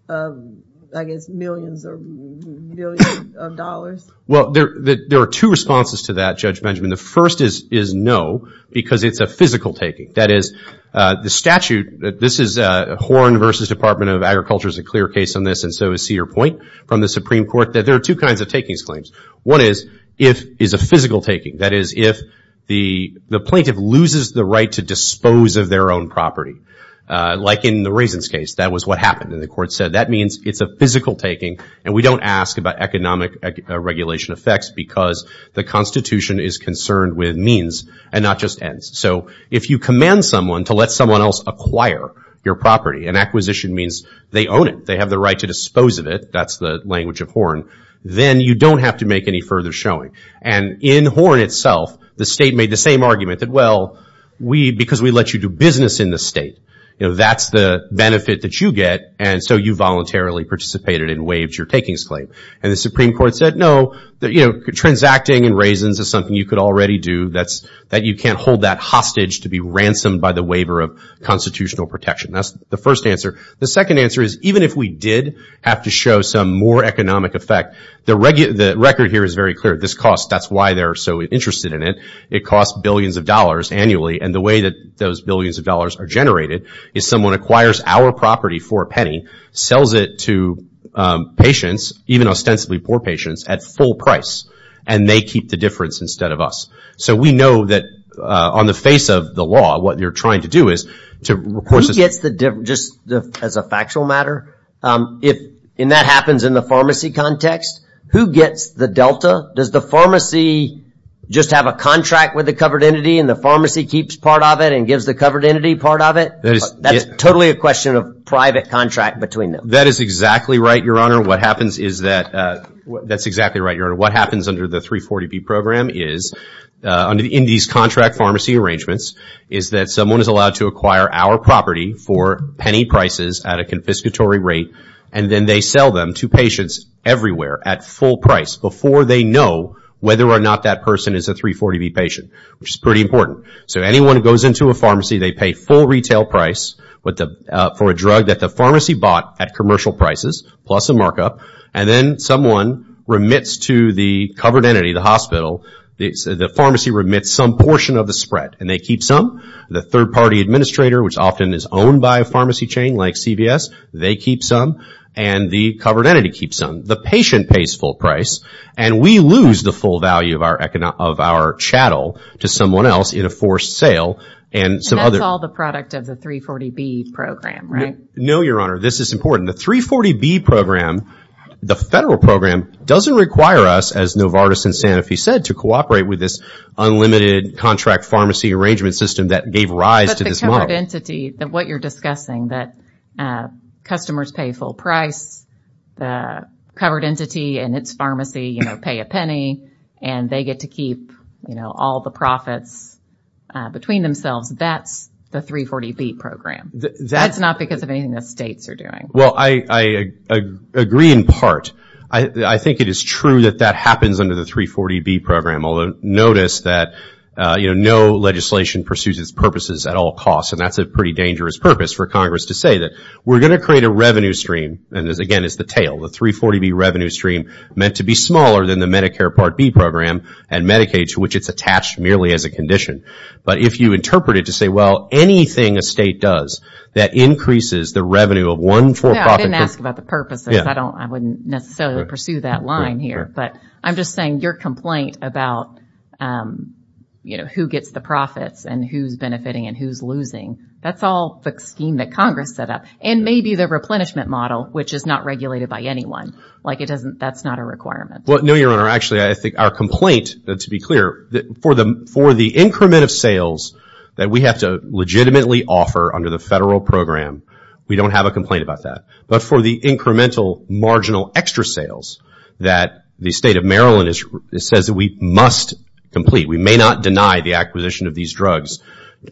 I guess, millions or billions of dollars? Well, there are two responses to that, Judge Benjamin. The first is no because it's a physical taking. That is, the statute, this is Horn v. Department of Agriculture is a clear case on this, and so is Cedar Point from the Supreme Court, that there are two kinds of takings claims. One is if it's a physical taking, that is if the plaintiff loses the right to dispose of their own property. Like in the raisins case, that was what happened, and the court said that means it's a physical taking and we don't ask about economic regulation effects because the Constitution is concerned with means and not just ends. So if you command someone to let someone else acquire your property and acquisition means they own it, they have the right to dispose of it, that's the language of Horn, then you don't have to make any further showing. And in Horn itself, the state made the same argument that, well, because we let you do business in the state, that's the benefit that you get, and so you voluntarily participated and waived your takings claim. And the Supreme Court said, no, transacting in raisins is something you could already do, that you can't hold that hostage to be ransomed by the waiver of constitutional protection. That's the first answer. The second answer is, even if we did have to show some more economic effect, the record here is very clear. This cost, that's why they're so interested in it, it costs billions of dollars annually, and the way that those billions of dollars are generated is someone acquires our property for a penny, sells it to patients, even ostensibly poor patients, at full price, and they keep the difference instead of us. So we know that on the face of the law, what they're trying to do is to... Who gets the difference, just as a factual matter? If that happens in the pharmacy context, who gets the delta? Does the pharmacy just have a contract with the covered entity and the pharmacy keeps part of it and gives the covered entity part of it? That's totally a question of private contract between them. That is exactly right, Your Honor. What happens is that... That's exactly right, Your Honor. What happens under the 340B program is... In these contract pharmacy arrangements, is that someone is allowed to acquire our property for penny prices at a confiscatory rate, and then they sell them to patients everywhere at full price before they know whether or not that person is a 340B patient, which is pretty important. So anyone who goes into a pharmacy, they pay full retail price for a drug that the pharmacy bought at commercial prices, plus a markup, and then someone remits to the covered entity, the hospital, the pharmacy remits some portion of the spread, and they keep some. The third-party administrator, which often is owned by a pharmacy chain like CVS, they keep some, and the covered entity keeps some. The patient pays full price, and we lose the full value of our chattel to someone else in a forced sale and some other... And that's all the product of the 340B program, right? No, Your Honor. This is important. The 340B program, the federal program, doesn't require us, as Novartis and Sanofi said, to cooperate with this unlimited contract pharmacy arrangement system that gave rise to this model. But the covered entity, what you're discussing, that customers pay full price, the covered entity and its pharmacy pay a penny, and they get to keep all the profits between themselves, that's the 340B program. That's not because of anything the states are doing. Well, I agree in part. I think it is true that that happens under the 340B program, although notice that, you know, no legislation pursues its purposes at all costs, and that's a pretty dangerous purpose for Congress to say that we're going to create a revenue stream, and again, it's the tail, the 340B revenue stream meant to be smaller than the Medicare Part B program and Medicaid to which it's attached merely as a condition. But if you interpret it to say, well, that increases the revenue of one for-profit group. I didn't ask about the purposes. I wouldn't necessarily pursue that line here, but I'm just saying your complaint about, you know, who gets the profits and who's benefiting and who's losing, that's all the scheme that Congress set up, and maybe the replenishment model, which is not regulated by anyone, like that's not a requirement. Well, no, Your Honor. Actually, I think our complaint, to be clear, for the increment of sales that we have to legitimately offer under the federal program, we don't have a complaint about that. But for the incremental marginal extra sales that the State of Maryland says that we must complete, we may not deny the acquisition of these drugs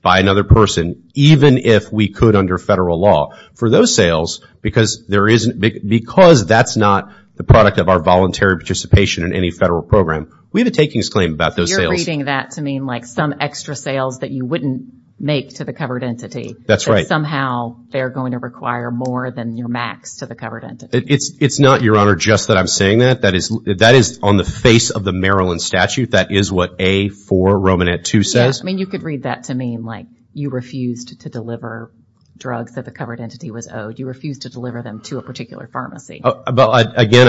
by another person even if we could under federal law. For those sales, because that's not the product of our voluntary participation in any federal program, we have a takings claim about those sales. You're reading that to mean, like, some extra sales that you wouldn't make to the covered entity. That's right. That somehow they're going to require more than your max to the covered entity. It's not, Your Honor, just that I'm saying that. That is on the face of the Maryland statute. That is what A-4 Romanet 2 says. Yeah, I mean, you could read that to mean, like, you refused to deliver drugs that the covered entity was owed. You refused to deliver them to a particular pharmacy. Again,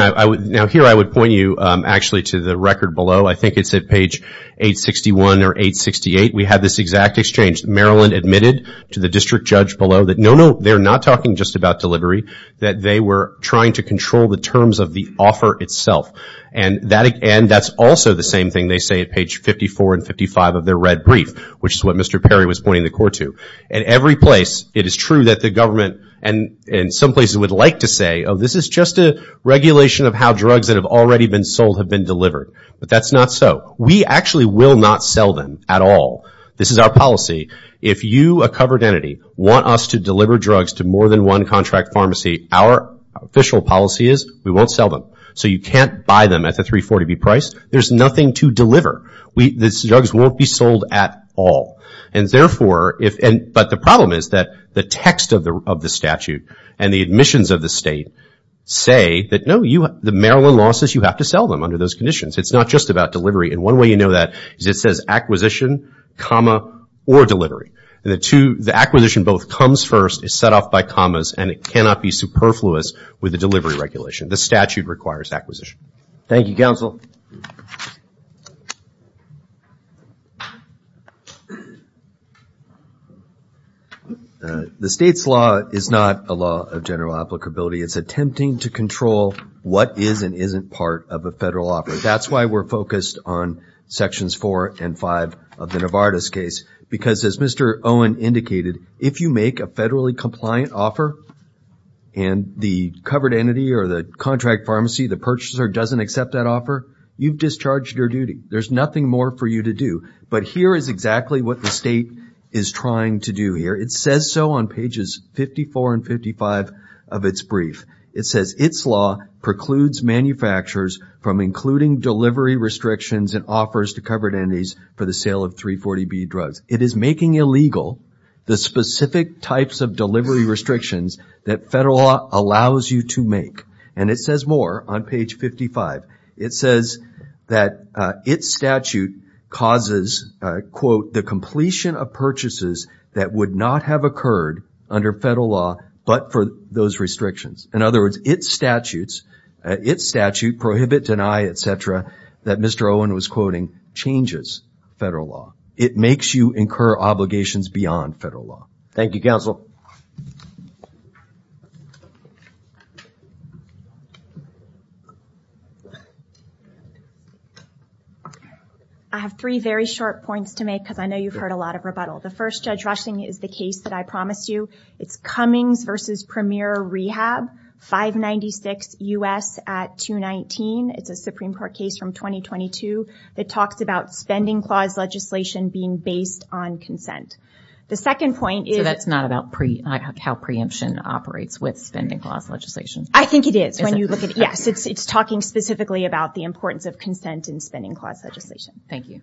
now here I would point you actually to the record below. I think it's at page 861 or 868. We have this exact exchange. Maryland admitted to the district judge below that, no, no, they're not talking just about delivery, that they were trying to control the terms of the offer itself. And that's also the same thing they say at page 54 and 55 of their red brief, which is what Mr. Perry was pointing the court to. At every place, it is true that the government, in some places, would like to say, oh, this is just a regulation of how drugs that have already been sold have been delivered. But that's not so. We actually will not sell them at all. This is our policy. If you, a covered entity, want us to deliver drugs to more than one contract pharmacy, our official policy is we won't sell them. So you can't buy them at the 340B price. There's nothing to deliver. These drugs won't be sold at all. But the problem is that the text of the statute and the admissions of the state say that, no, the Maryland law says you have to sell them under those conditions. It's not just about delivery. And one way you know that is it says acquisition, comma, or delivery. The acquisition both comes first, is set off by commas, and it cannot be superfluous with the delivery regulation. The statute requires acquisition. Thank you very much. Thank you, Counsel. The state's law is not a law of general applicability. It's attempting to control what is and isn't part of a federal offer. That's why we're focused on Sections 4 and 5 of the Novartis case, because as Mr. Owen indicated, if you make a federally compliant offer and the covered entity or the contract pharmacy, the purchaser doesn't accept that offer, you've discharged your duty. There's nothing more for you to do. But here is exactly what the state is trying to do here. It says so on pages 54 and 55 of its brief. It says, its law precludes manufacturers from including delivery restrictions and offers to covered entities for the sale of 340B drugs. It is making illegal the specific types of delivery restrictions that federal law allows you to make. And it says more on page 55. It says that its statute causes, the completion of purchases that would not have occurred under federal law but for those restrictions. In other words, its statutes, its statute, prohibit, deny, et cetera, that Mr. Owen was quoting, changes federal law. It makes you incur obligations beyond federal law. Thank you, counsel. I have three very short points to make because I know you've heard a lot of rebuttal. The first, Judge Rushing, is the case that I promised you. It's Cummings v. Premier Rehab, 596 U.S. at 219. It's a Supreme Court case from 2022. It talks about spending clause legislation being based on consent. The second point is... So that's not about how preemption operates with spending clause legislation? I think it is. Yes, it's talking specifically about the importance of consent in spending clause legislation. Thank you.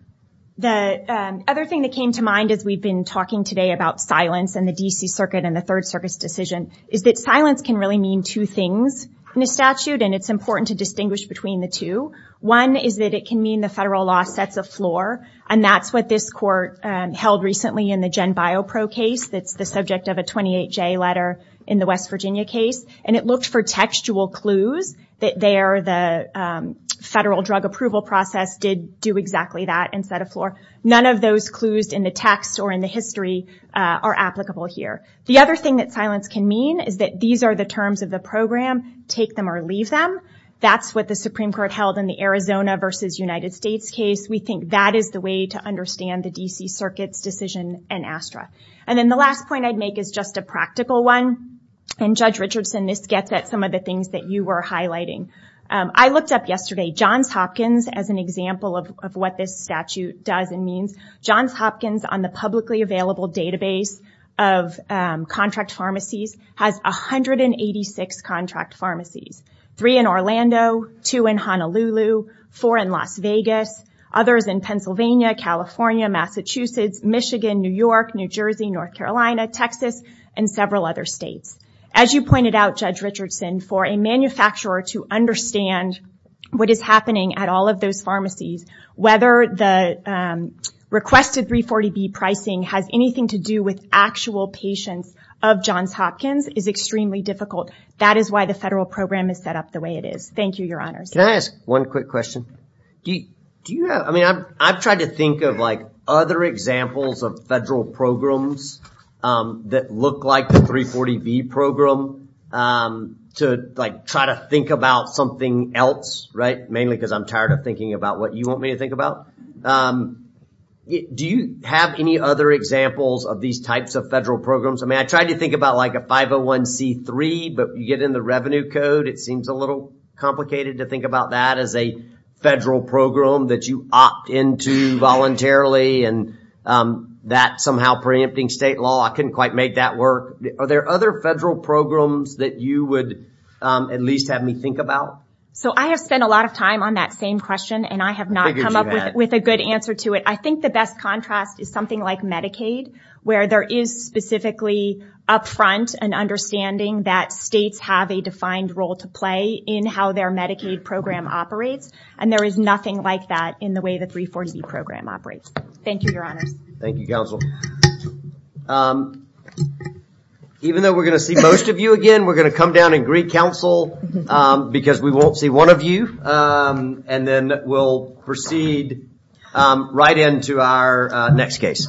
The other thing that came to mind as we've been talking today about silence and the D.C. Circuit and the Third Circuit's decision is that silence can really mean two things in a statute, and it's important to distinguish between the two. One is that it can mean the federal law sets a floor, and that's what this court held recently in the Jen Biopro case that's the subject of a 28-J letter in the West Virginia case, and it looked for textual clues that there the federal drug approval process did do exactly that and set a floor. None of those clues in the text or in the history are applicable here. The other thing that silence can mean is that these are the terms of the program, take them or leave them. That's what the Supreme Court held in the Arizona versus United States case. We think that is the way to understand the D.C. Circuit's decision in ASTRA. And then the last point I'd make is just a practical one, and, Judge Richardson, this gets at some of the things that you were highlighting. I looked up yesterday Johns Hopkins as an example of what this statute does and means. Johns Hopkins, on the publicly available database of contract pharmacies, has 186 contract pharmacies, three in Orlando, two in Honolulu, four in Las Vegas, others in Pennsylvania, California, Massachusetts, Michigan, New York, New Jersey, North Carolina, Texas, and several other states. As you pointed out, Judge Richardson, for a manufacturer to understand what is happening at all of those pharmacies, whether the requested 340B pricing has anything to do with actual patients of Johns Hopkins is extremely difficult. That is why the federal program is set up the way it is. Thank you, Your Honors. Can I ask one quick question? Do you have... I mean, I've tried to think of, like, other examples of federal programs that look like the 340B program to, like, try to think about something else, right? Mainly because I'm tired of thinking about what you want me to think about. Do you have any other examples of these types of federal programs? I mean, I tried to think about, like, a 501C3, but you get in the revenue code. It seems a little complicated to think about that as a federal program that you opt into voluntarily and that somehow preempting state law. I couldn't quite make that work. Are there other federal programs that you would at least have me think about? So I have spent a lot of time on that same question, and I have not come up with a good answer to it. I think the best contrast is something like Medicaid, where there is specifically upfront an understanding that states have a defined role to play in how their Medicaid program operates, and there is nothing like that in the way the 340B program operates. Thank you, Your Honors. Thank you, Counsel. Even though we're going to see most of you again, we're going to come down and greet Counsel because we won't see one of you, and then we'll proceed right into our next case.